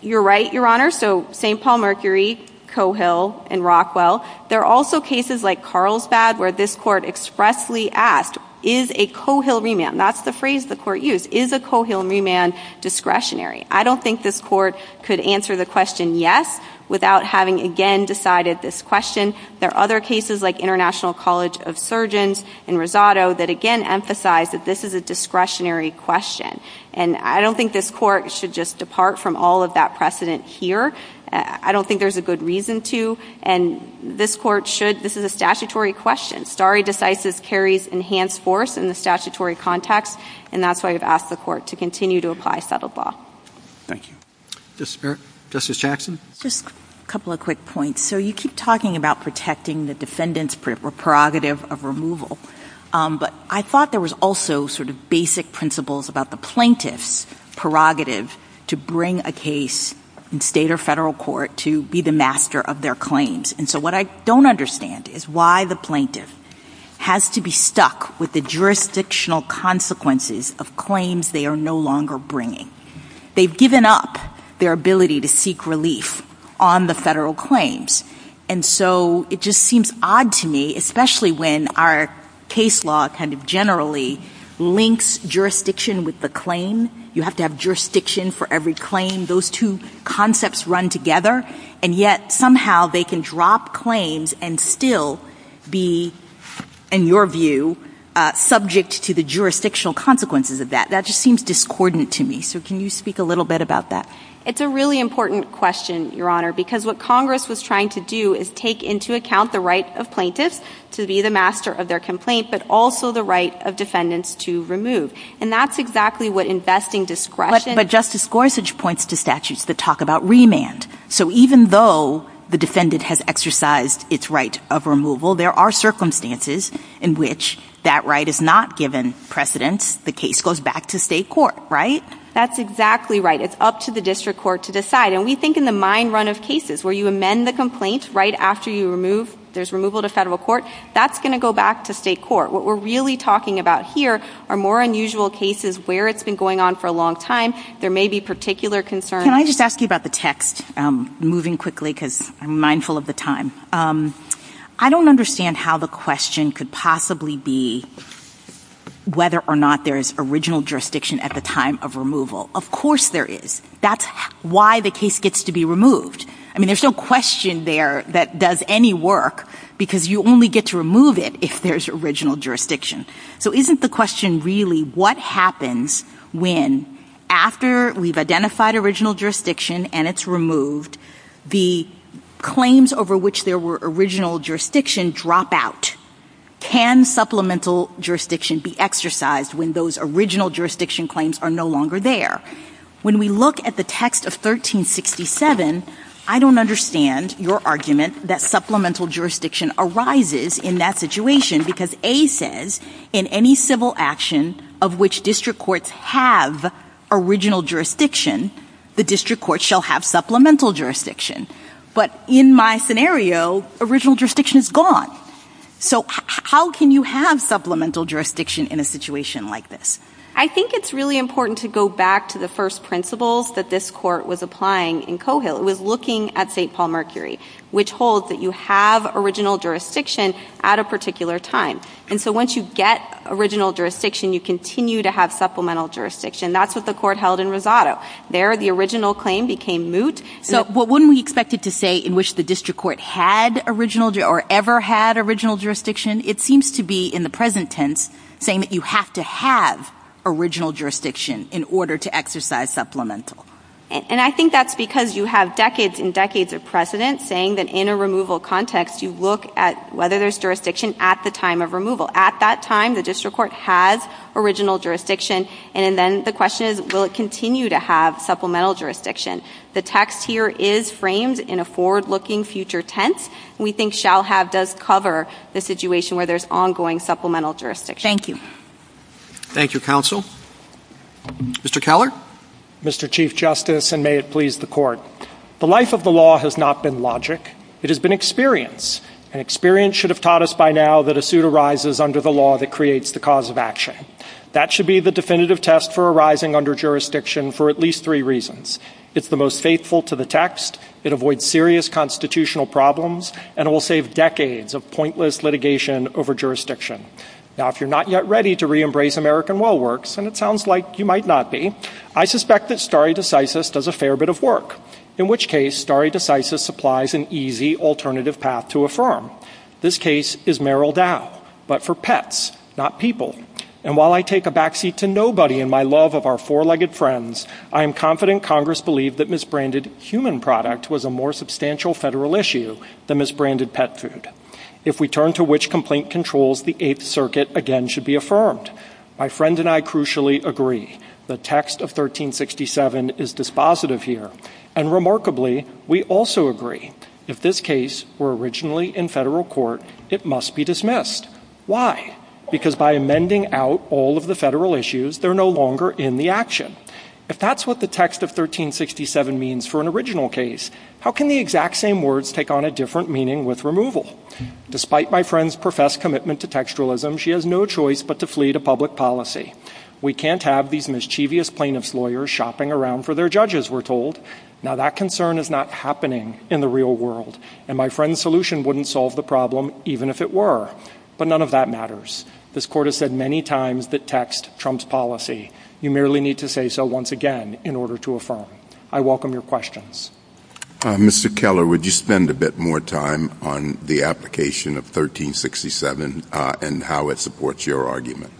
You're right, Your Honor. So St. Paul-Mercury, Coehill, and Rockwell. There are also cases like Carlsbad where this Court expressly asked, is a Coehill remand, that's the phrase the Court used, is a Coehill remand discretionary? I don't think this Court could answer the question yes without having again decided this question. There are other cases like International College of Surgeons in Rosado that again emphasize that this is a discretionary question, and I don't think this Court should just depart from all of that precedent here. I don't think there's a good reason to, and this Court should, this is a statutory question. Stare decisis carries enhanced force in the statutory context, and that's why we've asked the Court to continue to apply settled law. Thank you. Justice Jackson? Just a couple of quick points. So you keep talking about protecting the defendant's prerogative of removal, but I thought there was also sort of basic principles about the plaintiff's prerogative to bring a case in state or federal court to be the master of their claims. And so what I don't understand is why the plaintiff has to be stuck with the jurisdictional consequences of claims they are no longer bringing. They've given up their ability to seek relief on the federal claims, and so it just seems odd to me, especially when our case law kind of generally links jurisdiction with the claim. You have to have jurisdiction for every claim. Those two concepts run together, and yet somehow they can drop claims and still be, in your view, subject to the jurisdictional consequences of that. That just seems discordant to me. So can you speak a little bit about that? It's a really important question, Your Honor, because what Congress was trying to do is take into account the right of plaintiffs to be the master of their complaint, but also the right of defendants to remove. And that's exactly what investing discretion— But Justice Gorsuch points to statutes that talk about remand. So even though the defendant has exercised its right of removal, there are circumstances in which that right is not given precedence. The case goes back to state court, right? That's exactly right. It's up to the district court to decide. And we think in the mine run of cases where you amend the complaint right after you remove, there's removal to federal court, that's going to go back to state court. What we're really talking about here are more unusual cases where it's been going on for a long time. There may be particular concerns. Can I just ask you about the text? Moving quickly because I'm mindful of the time. I don't understand how the question could possibly be whether or not there is original jurisdiction at the time of removal. Of course there is. That's why the case gets to be removed. I mean, there's no question there that does any work because you only get to remove it if there's original jurisdiction. So isn't the question really what happens when, after we've identified original jurisdiction and it's removed, the claims over which there were original jurisdiction drop out? Can supplemental jurisdiction be exercised when those original jurisdiction claims are no longer there? When we look at the text of 1367, I don't understand your argument that supplemental jurisdiction arises in that situation because A says in any civil action of which district courts have original jurisdiction, the district courts shall have supplemental jurisdiction. But in my scenario, original jurisdiction is gone. So how can you have supplemental jurisdiction in a situation like this? I think it's really important to go back to the first principles that this court was applying in Coehill. It was looking at St. Paul-Mercury, which holds that you have original jurisdiction at a particular time. And so once you get original jurisdiction, you continue to have supplemental jurisdiction. That's what the court held in Rosado. There, the original claim became moot. So wouldn't we expect it to say in which the district court had original or ever had original jurisdiction? It seems to be, in the present tense, saying that you have to have original jurisdiction in order to exercise supplemental. And I think that's because you have decades and decades of precedent saying that in a removal context, you look at whether there's jurisdiction at the time of removal. At that time, the district court has original jurisdiction. And then the question is, will it continue to have supplemental jurisdiction? The text here is framed in a forward-looking future tense. We think shall have does cover the situation where there's ongoing supplemental jurisdiction. Thank you. Thank you, counsel. Mr. Keller. Mr. Chief Justice, and may it please the court. The life of the law has not been logic. It has been experience. And experience should have taught us by now that a suit arises under the law that creates the cause of action. That should be the definitive test for arising under jurisdiction for at least three reasons. It's the most faithful to the text. It avoids serious constitutional problems. And it will save decades of pointless litigation over jurisdiction. Now, if you're not yet ready to reembrace American Well Works, and it sounds like you might not be, I suspect that stare decisis does a fair bit of work, in which case stare decisis supplies an easy alternative path to affirm. This case is Merrill Dow, but for pets, not people. And while I take a backseat to nobody in my love of our four-legged friends, I am confident Congress believed that misbranded human product was a more substantial federal issue than misbranded pet food. If we turn to which complaint controls the Eighth Circuit again should be affirmed. My friend and I crucially agree. The text of 1367 is dispositive here. And remarkably, we also agree. If this case were originally in federal court, it must be dismissed. Why? Because by amending out all of the federal issues, they're no longer in the action. If that's what the text of 1367 means for an original case, how can the exact same words take on a different meaning with removal? Despite my friend's professed commitment to textualism, she has no choice but to flee to public policy. We can't have these mischievous plaintiff's lawyers shopping around for their judges, we're told. Now, that concern is not happening in the real world. And my friend's solution wouldn't solve the problem, even if it were. But none of that matters. This court has said many times that text trumps policy. You merely need to say so once again in order to affirm. I welcome your questions. Mr. Keller, would you spend a bit more time on the application of 1367 and how it supports your argument?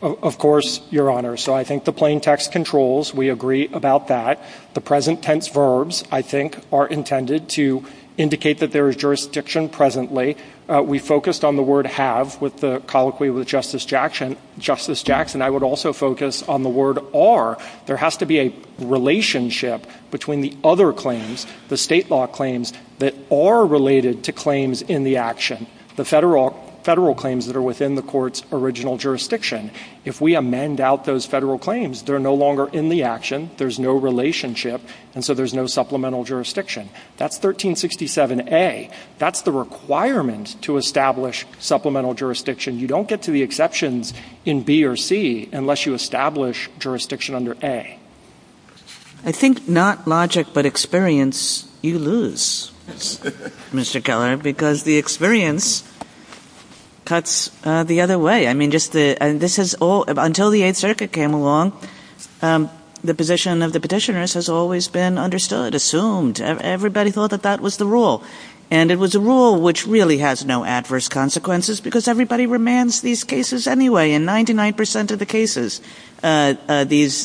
Of course, Your Honor. So I think the plain text controls. We agree about that. The present tense verbs, I think, are intended to indicate that there is jurisdiction presently. We focused on the word have with the colloquy with Justice Jackson. Justice Jackson, I would also focus on the word are. There has to be a relationship between the other claims, the state law claims, that are related to claims in the action. The federal claims that are within the court's original jurisdiction. If we amend out those federal claims, they're no longer in the action, there's no relationship, and so there's no supplemental jurisdiction. That's 1367A. That's the requirement to establish supplemental jurisdiction. You don't get to the exceptions in B or C unless you establish jurisdiction under A. I think not logic but experience you lose, Mr. Keller, because the experience cuts the other way. I mean, just the ‑‑ this is all ‑‑ until the Eighth Circuit came along, the position of the petitioners has always been understood, assumed. Everybody thought that that was the rule. And it was a rule which really has no adverse consequences because everybody remands these cases anyway. In 99% of the cases, these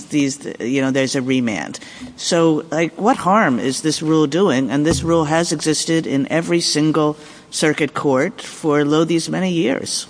‑‑ you know, there's a remand. So, like, what harm is this rule doing? And this rule has existed in every single circuit court for lo these many years.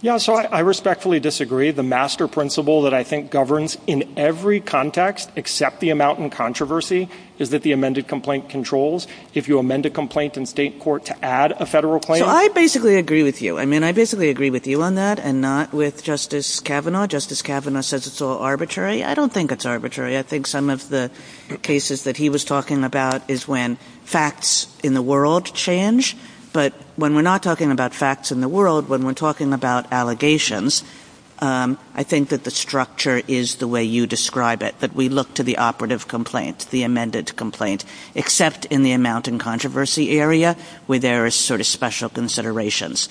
Yeah, so I respectfully disagree. The master principle that I think governs in every context except the amount in controversy is that the amended complaint controls. If you amend a complaint in state court to add a federal claim ‑‑ So, I basically agree with you. I mean, I basically agree with you on that and not with Justice Kavanaugh. Justice Kavanaugh says it's all arbitrary. I don't think it's arbitrary. I think some of the cases that he was talking about is when facts in the world change. But when we're not talking about facts in the world, when we're talking about allegations, I think that the structure is the way you describe it, that we look to the operative complaint, the amended complaint, except in the amount in controversy area where there are sort of special considerations.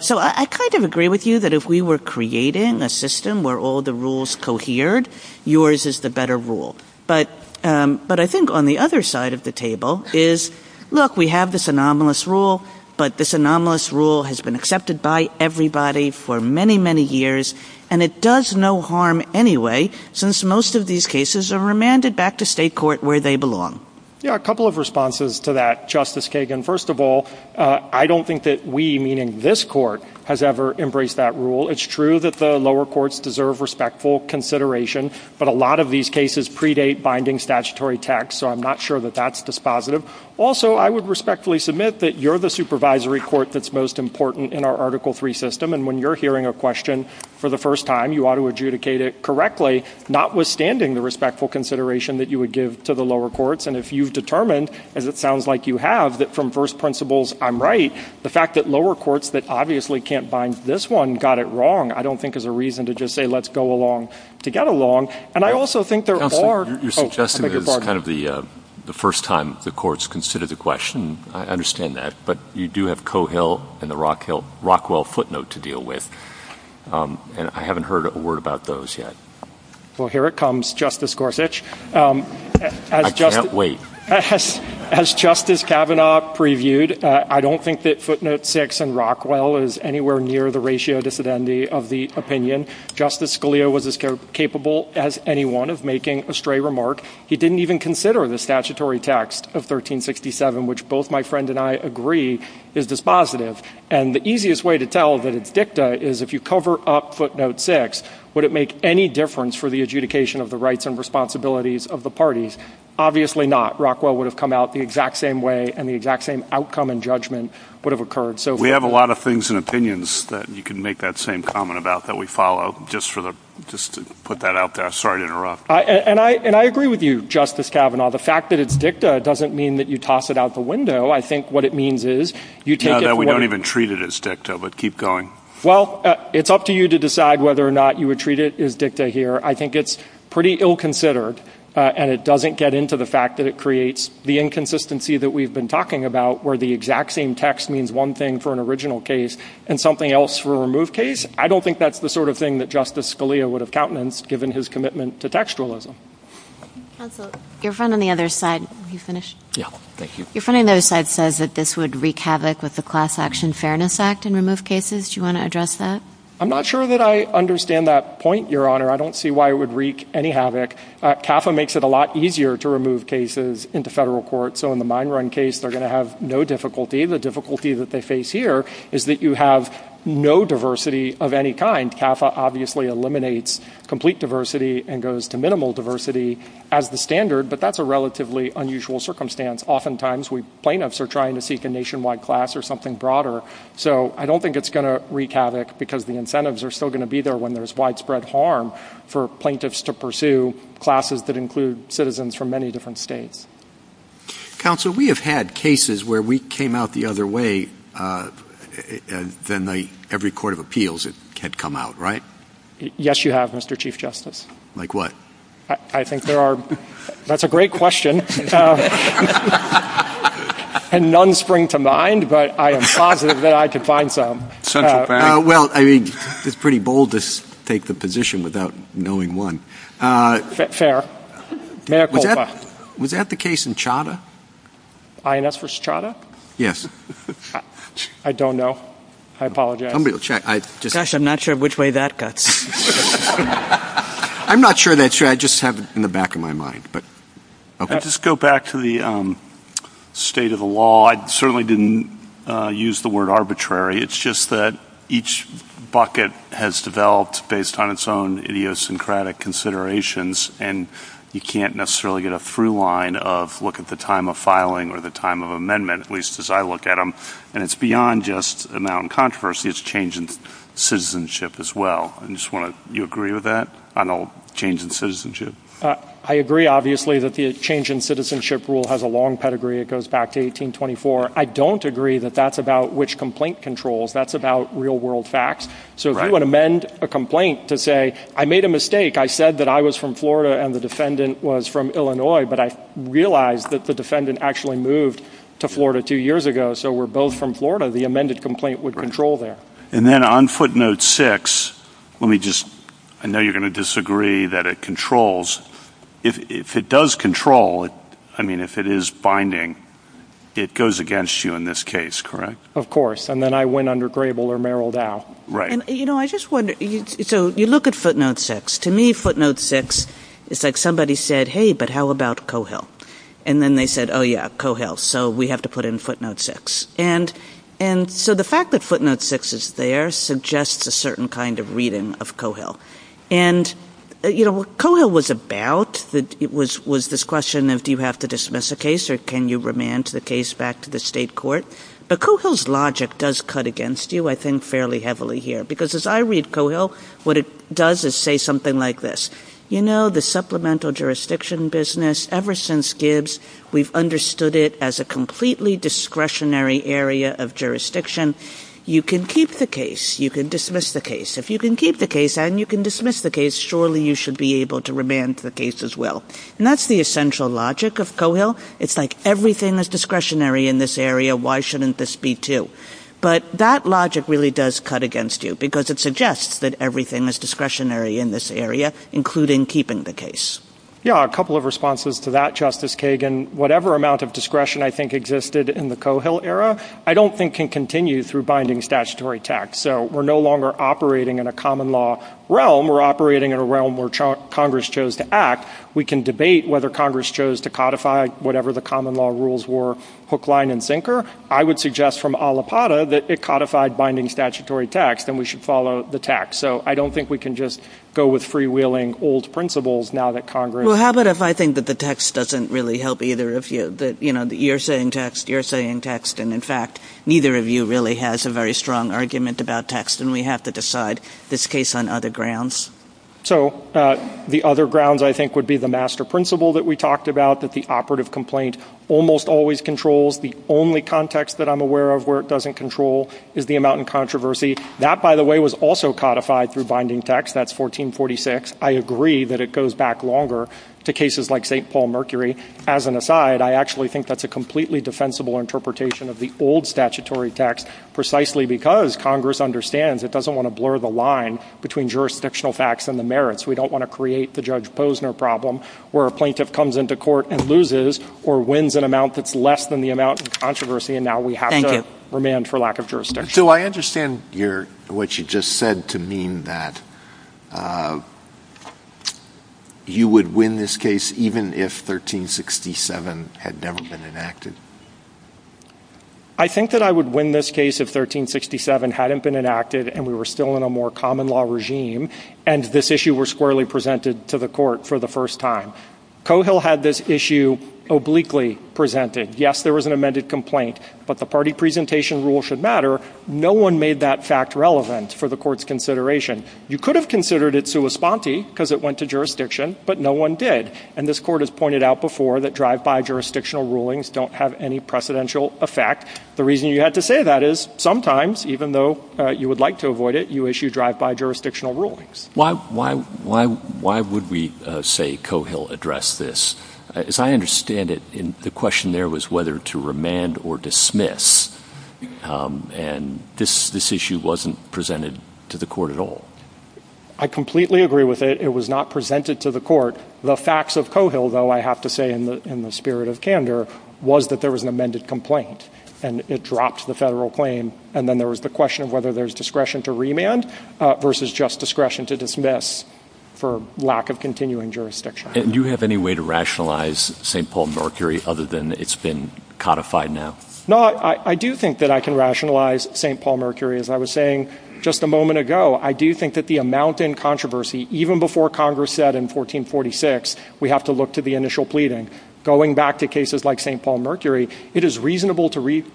So, I kind of agree with you that if we were creating a system where all the rules cohered, yours is the better rule. But I think on the other side of the table is, look, we have this anomalous rule, but this anomalous rule has been accepted by everybody for many, many years, and it does no harm anyway since most of these cases are remanded back to state court where they belong. Yeah, a couple of responses to that, Justice Kagan. First of all, I don't think that we, meaning this court, has ever embraced that rule. It's true that the lower courts deserve respectful consideration, but a lot of these cases predate binding statutory text, so I'm not sure that that's dispositive. Also, I would respectfully submit that you're the supervisory court that's most important in our Article III system, and when you're hearing a question for the first time, you ought to adjudicate it correctly, notwithstanding the respectful consideration that you would give to the lower courts. And if you've determined, as it sounds like you have, that from first principles I'm right, the fact that lower courts that obviously can't bind this one got it wrong, I don't think is a reason to just say let's go along to get along. And I also think there are – Counselor, you're suggesting that this is kind of the first time the courts considered the question. I understand that, but you do have Cohill and the Rockwell footnote to deal with, and I haven't heard a word about those yet. Well, here it comes, Justice Gorsuch. I can't wait. As Justice Kavanaugh previewed, I don't think that footnote 6 in Rockwell is anywhere near the ratio dissidentity of the opinion. Justice Scalia was as capable as anyone of making a stray remark. He didn't even consider the statutory text of 1367, which both my friend and I agree is dispositive. And the easiest way to tell that it's dicta is if you cover up footnote 6, would it make any difference for the adjudication of the rights and responsibilities of the parties? Obviously not. Rockwell would have come out the exact same way, and the exact same outcome and judgment would have occurred. We have a lot of things and opinions that you can make that same comment about that we follow, just to put that out there. Sorry to interrupt. And I agree with you, Justice Kavanaugh. The fact that it's dicta doesn't mean that you toss it out the window. I think what it means is you take it from where— No, that we don't even treat it as dicta, but keep going. Well, it's up to you to decide whether or not you would treat it as dicta here. I think it's pretty ill-considered, and it doesn't get into the fact that it creates the inconsistency that we've been talking about, where the exact same text means one thing for an original case and something else for a removed case. I don't think that's the sort of thing that Justice Scalia would have countenanced, given his commitment to textualism. Counsel, your friend on the other side—will you finish? Yeah, thank you. Your friend on the other side says that this would wreak havoc with the Class Action Fairness Act and remove cases. Do you want to address that? I'm not sure that I understand that point, Your Honor. I don't see why it would wreak any havoc. CAFA makes it a lot easier to remove cases into federal court. So in the Mine Run case, they're going to have no difficulty. The difficulty that they face here is that you have no diversity of any kind. CAFA obviously eliminates complete diversity and goes to minimal diversity as the standard, but that's a relatively unusual circumstance. Oftentimes, plaintiffs are trying to seek a nationwide class or something broader, so I don't think it's going to wreak havoc because the incentives are still going to be there when there's widespread harm for plaintiffs to pursue classes that include citizens from many different states. Counsel, we have had cases where we came out the other way than every court of appeals had come out, right? Yes, you have, Mr. Chief Justice. Like what? I think there are—that's a great question. And none spring to mind, but I am positive that I could find some. Central bank? Well, I mean, it's pretty bold to take the position without knowing one. Fair. Was that the case in Chadha? INS versus Chadha? Yes. I don't know. I apologize. Somebody will check. Gosh, I'm not sure which way that cuts. I'm not sure that's true. I just have it in the back of my mind. I'll just go back to the state of the law. I certainly didn't use the word arbitrary. It's just that each bucket has developed based on its own idiosyncratic considerations, and you can't necessarily get a through line of look at the time of filing or the time of amendment, at least as I look at them. And it's beyond just amount of controversy. It's a change in citizenship as well. Do you agree with that on a change in citizenship? I agree, obviously, that the change in citizenship rule has a long pedigree. It goes back to 1824. I don't agree that that's about which complaint controls. That's about real-world facts. So if you want to amend a complaint to say, I made a mistake. I said that I was from Florida and the defendant was from Illinois, but I realized that the defendant actually moved to Florida two years ago, so we're both from Florida. The amended complaint would control there. And then on footnote six, let me just – I know you're going to disagree that it controls. If it does control, I mean, if it is binding, it goes against you in this case, correct? Of course. And then I win under Grable or Merrill Dow. Right. You know, I just wonder – so you look at footnote six. To me, footnote six is like somebody said, hey, but how about Cohill? And then they said, oh, yeah, Cohill, so we have to put in footnote six. And so the fact that footnote six is there suggests a certain kind of reading of Cohill. And, you know, what Cohill was about was this question of do you have to dismiss a case or can you remand the case back to the state court? But Cohill's logic does cut against you, I think, fairly heavily here. Because as I read Cohill, what it does is say something like this. You know, the supplemental jurisdiction business, ever since Gibbs, we've understood it as a completely discretionary area of jurisdiction. You can keep the case. You can dismiss the case. If you can keep the case and you can dismiss the case, surely you should be able to remand the case as well. And that's the essential logic of Cohill. It's like everything is discretionary in this area. Why shouldn't this be too? But that logic really does cut against you, because it suggests that everything is discretionary in this area, including keeping the case. Yeah, a couple of responses to that, Justice Kagan. Whatever amount of discretion I think existed in the Cohill era, I don't think can continue through binding statutory tax. So we're no longer operating in a common law realm. We're operating in a realm where Congress chose to act. We can debate whether Congress chose to codify whatever the common law rules were, hook, line, and sinker. I would suggest from Alipata that it codified binding statutory tax, then we should follow the tax. So I don't think we can just go with freewheeling old principles now that Congress — Well, how about if I think that the text doesn't really help either of you, that, you know, you're saying text, you're saying text, and, in fact, neither of you really has a very strong argument about text, and we have to decide this case on other grounds. So the other grounds I think would be the master principle that we talked about, that the operative complaint almost always controls. The only context that I'm aware of where it doesn't control is the amount in controversy. That, by the way, was also codified through binding tax. That's 1446. I agree that it goes back longer to cases like St. Paul-Mercury. As an aside, I actually think that's a completely defensible interpretation of the old statutory tax precisely because Congress understands it doesn't want to blur the line between jurisdictional facts and the merits. We don't want to create the Judge Posner problem where a plaintiff comes into court and loses or wins an amount that's less than the amount in controversy, and now we have to remand for lack of jurisdiction. So I understand what you just said to mean that you would win this case even if 1367 had never been enacted. I think that I would win this case if 1367 hadn't been enacted and we were still in a more common law regime and this issue were squarely presented to the court for the first time. Cohill had this issue obliquely presented. Yes, there was an amended complaint, but the party presentation rule should matter. No one made that fact relevant for the Court's consideration. You could have considered it sua sponte because it went to jurisdiction, but no one did. And this Court has pointed out before that drive-by jurisdictional rulings don't have any precedential effect. The reason you had to say that is sometimes, even though you would like to avoid it, you issue drive-by jurisdictional rulings. Why would we say Cohill addressed this? As I understand it, the question there was whether to remand or dismiss, and this issue wasn't presented to the Court at all. I completely agree with it. It was not presented to the Court. The facts of Cohill, though, I have to say in the spirit of candor, was that there was an amended complaint and it dropped the federal claim. And then there was the question of whether there's discretion to remand versus just discretion to dismiss for lack of continuing jurisdiction. And do you have any way to rationalize St. Paul Mercury other than it's been codified now? No, I do think that I can rationalize St. Paul Mercury. As I was saying just a moment ago, I do think that the amount in controversy, even before Congress said in 1446 we have to look to the initial pleading, going back to cases like St. Paul Mercury, it is reasonable to read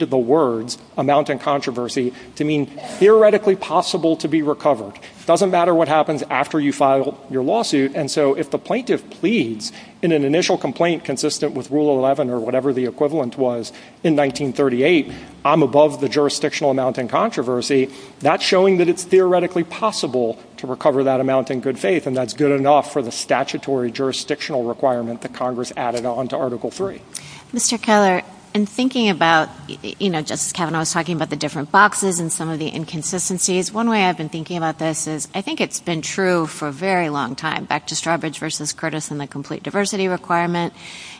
the words amount in controversy to mean theoretically possible to be recovered. It doesn't matter what happens after you file your lawsuit. And so if the plaintiff pleads in an initial complaint consistent with Rule 11 or whatever the equivalent was in 1938, I'm above the jurisdictional amount in controversy, that's showing that it's theoretically possible to recover that amount in good faith, and that's good enough for the statutory jurisdictional requirement that Congress added on to Article III. Mr. Keller, in thinking about, you know, Justice Kavanaugh was talking about the different boxes and some of the inconsistencies, one way I've been thinking about this is I think it's been true for a very long time, back to Strawbridge v. Curtis and the complete diversity requirement,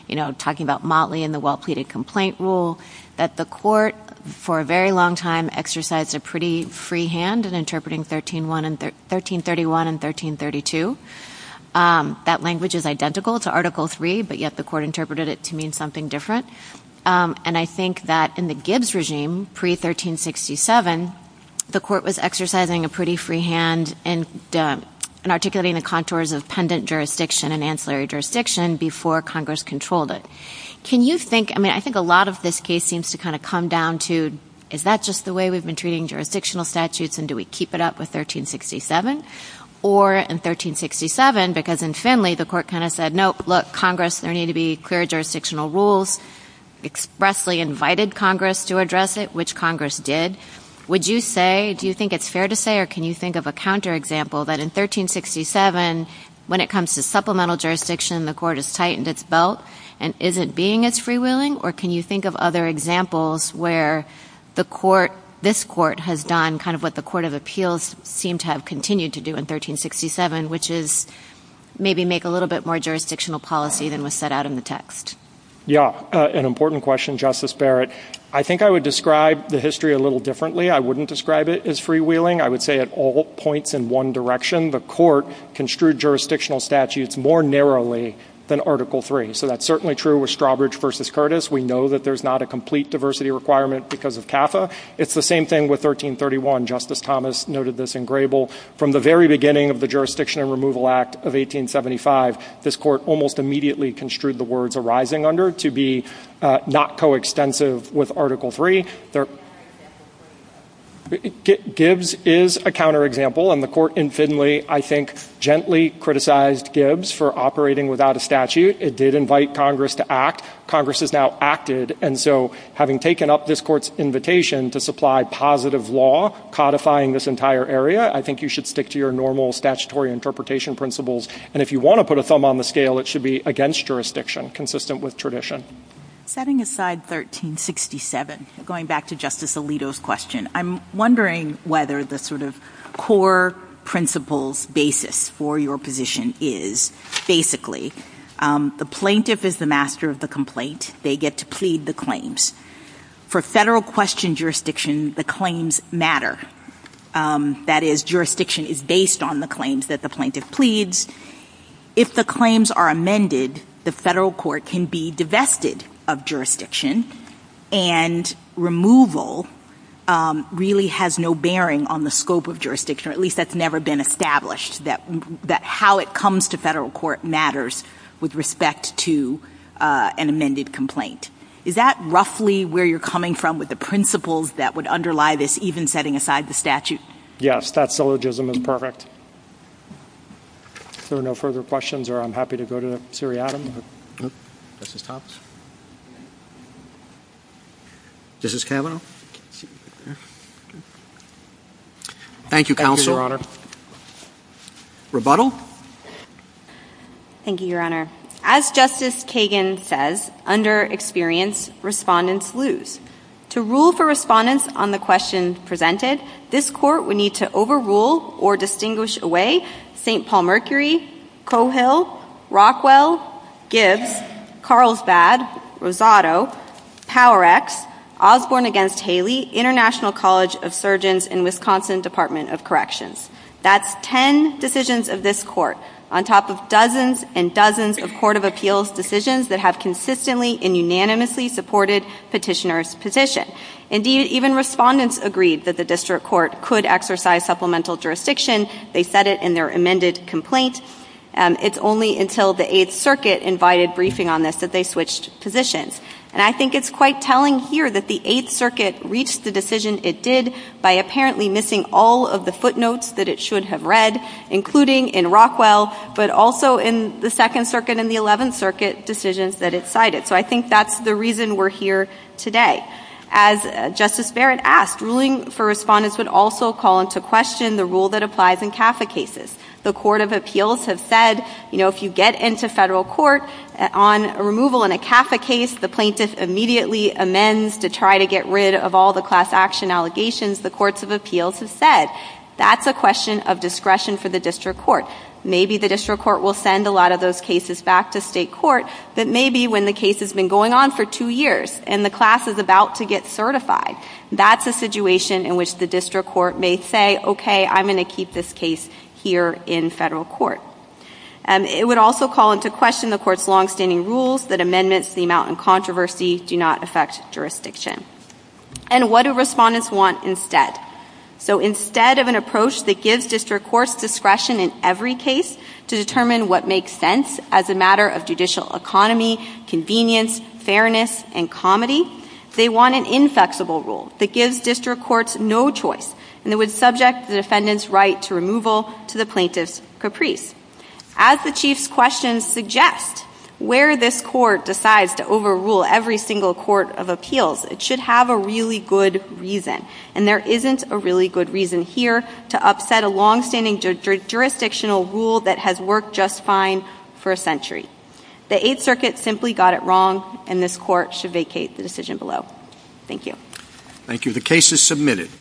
you know, talking about Motley and the well-pleaded complaint rule, that the court for a very long time exercised a pretty free hand in interpreting 1331 and 1332. That language is identical to Article III, but yet the court interpreted it to mean something different. And I think that in the Gibbs regime, pre-1367, the court was exercising a pretty free hand in articulating the contours of pendant jurisdiction and ancillary jurisdiction before Congress controlled it. Can you think, I mean, I think a lot of this case seems to kind of come down to, is that just the way we've been treating jurisdictional statutes and do we keep it up with 1367? Or in 1367, because in Finley the court kind of said, nope, look, Congress, there need to be clear jurisdictional rules, expressly invited Congress to address it, which Congress did. Would you say, do you think it's fair to say, or can you think of a counterexample that in 1367, when it comes to supplemental jurisdiction, the court has tightened its belt and isn't being as freewheeling? Or can you think of other examples where the court, this court, has done kind of what the Court of Appeals seemed to have continued to do in 1367, which is maybe make a little bit more jurisdictional policy than was set out in the text? Yeah, an important question, Justice Barrett. I think I would describe the history a little differently. I wouldn't describe it as freewheeling. I would say it all points in one direction. The court construed jurisdictional statutes more narrowly than Article III. So that's certainly true with Strawbridge v. Curtis. We know that there's not a complete diversity requirement because of CAFA. It's the same thing with 1331. Justice Thomas noted this in Grable. From the very beginning of the Jurisdiction and Removal Act of 1875, this court almost immediately construed the words arising under to be not coextensive with Article III. Gibbs is a counterexample. And the court infinitely, I think, gently criticized Gibbs for operating without a statute. It did invite Congress to act. Congress has now acted. And so having taken up this court's invitation to supply positive law codifying this entire area, I think you should stick to your normal statutory interpretation principles. And if you want to put a thumb on the scale, it should be against jurisdiction, consistent with tradition. Setting aside 1367, going back to Justice Alito's question, I'm wondering whether the sort of core principles basis for your position is basically the plaintiff is the master of the complaint. They get to plead the claims. For federal question jurisdiction, the claims matter. That is, jurisdiction is based on the claims that the plaintiff pleads. If the claims are amended, the federal court can be divested of jurisdiction, and removal really has no bearing on the scope of jurisdiction, or at least that's never been established, that how it comes to federal court matters with respect to an amended complaint. Is that roughly where you're coming from with the principles that would underlie this, even setting aside the statute? Yes, that syllogism is perfect. If there are no further questions, I'm happy to go to Siri Adams. Justice Thomas? Justice Kavanaugh? Thank you, Counsel. Thank you, Your Honor. Rebuttal? Thank you, Your Honor. As Justice Kagan says, under experience, respondents lose. To rule for respondents on the question presented, this court would need to overrule or distinguish away St. Paul Mercury, Coehill, Rockwell, Gibbs, Carlsbad, Rosado, Power X, Osborne v. Haley, International College of Surgeons, and Wisconsin Department of Corrections. That's ten decisions of this court on top of dozens and dozens of court of appeals decisions that have consistently and unanimously supported petitioner's petition. Indeed, even respondents agreed that the district court could exercise supplemental jurisdiction. They said it in their amended complaint. It's only until the Eighth Circuit invited briefing on this that they switched positions. And I think it's quite telling here that the Eighth Circuit reached the decision it did by apparently missing all of the footnotes that it should have read, including in Rockwell, but also in the Second Circuit and the Eleventh Circuit decisions that it cited. So I think that's the reason we're here today. As Justice Barrett asked, ruling for respondents would also call into question the rule that applies in CAFA cases. The court of appeals have said, you know, if you get into federal court on removal in a CAFA case, the plaintiff immediately amends to try to get rid of all the class action allegations, the courts of appeals have said. That's a question of discretion for the district court. Maybe the district court will send a lot of those cases back to state court, but maybe when the case has been going on for two years and the class is about to get certified, that's a situation in which the district court may say, okay, I'm going to keep this case here in federal court. It would also call into question the court's longstanding rules that amendments to the amount in controversy do not affect jurisdiction. And what do respondents want instead? So instead of an approach that gives district courts discretion in every case to determine what makes sense as a matter of judicial economy, convenience, fairness, and comedy, they want an inflexible rule that gives district courts no choice and that would subject the defendant's right to removal to the plaintiff's caprice. As the Chief's questions suggest, where this court decides to overrule every single court of appeals, it should have a really good reason, and there isn't a really good reason here to upset a longstanding jurisdictional rule that has worked just fine for a century. The Eighth Circuit simply got it wrong, and this court should vacate the decision below. Thank you. Thank you. The case is submitted.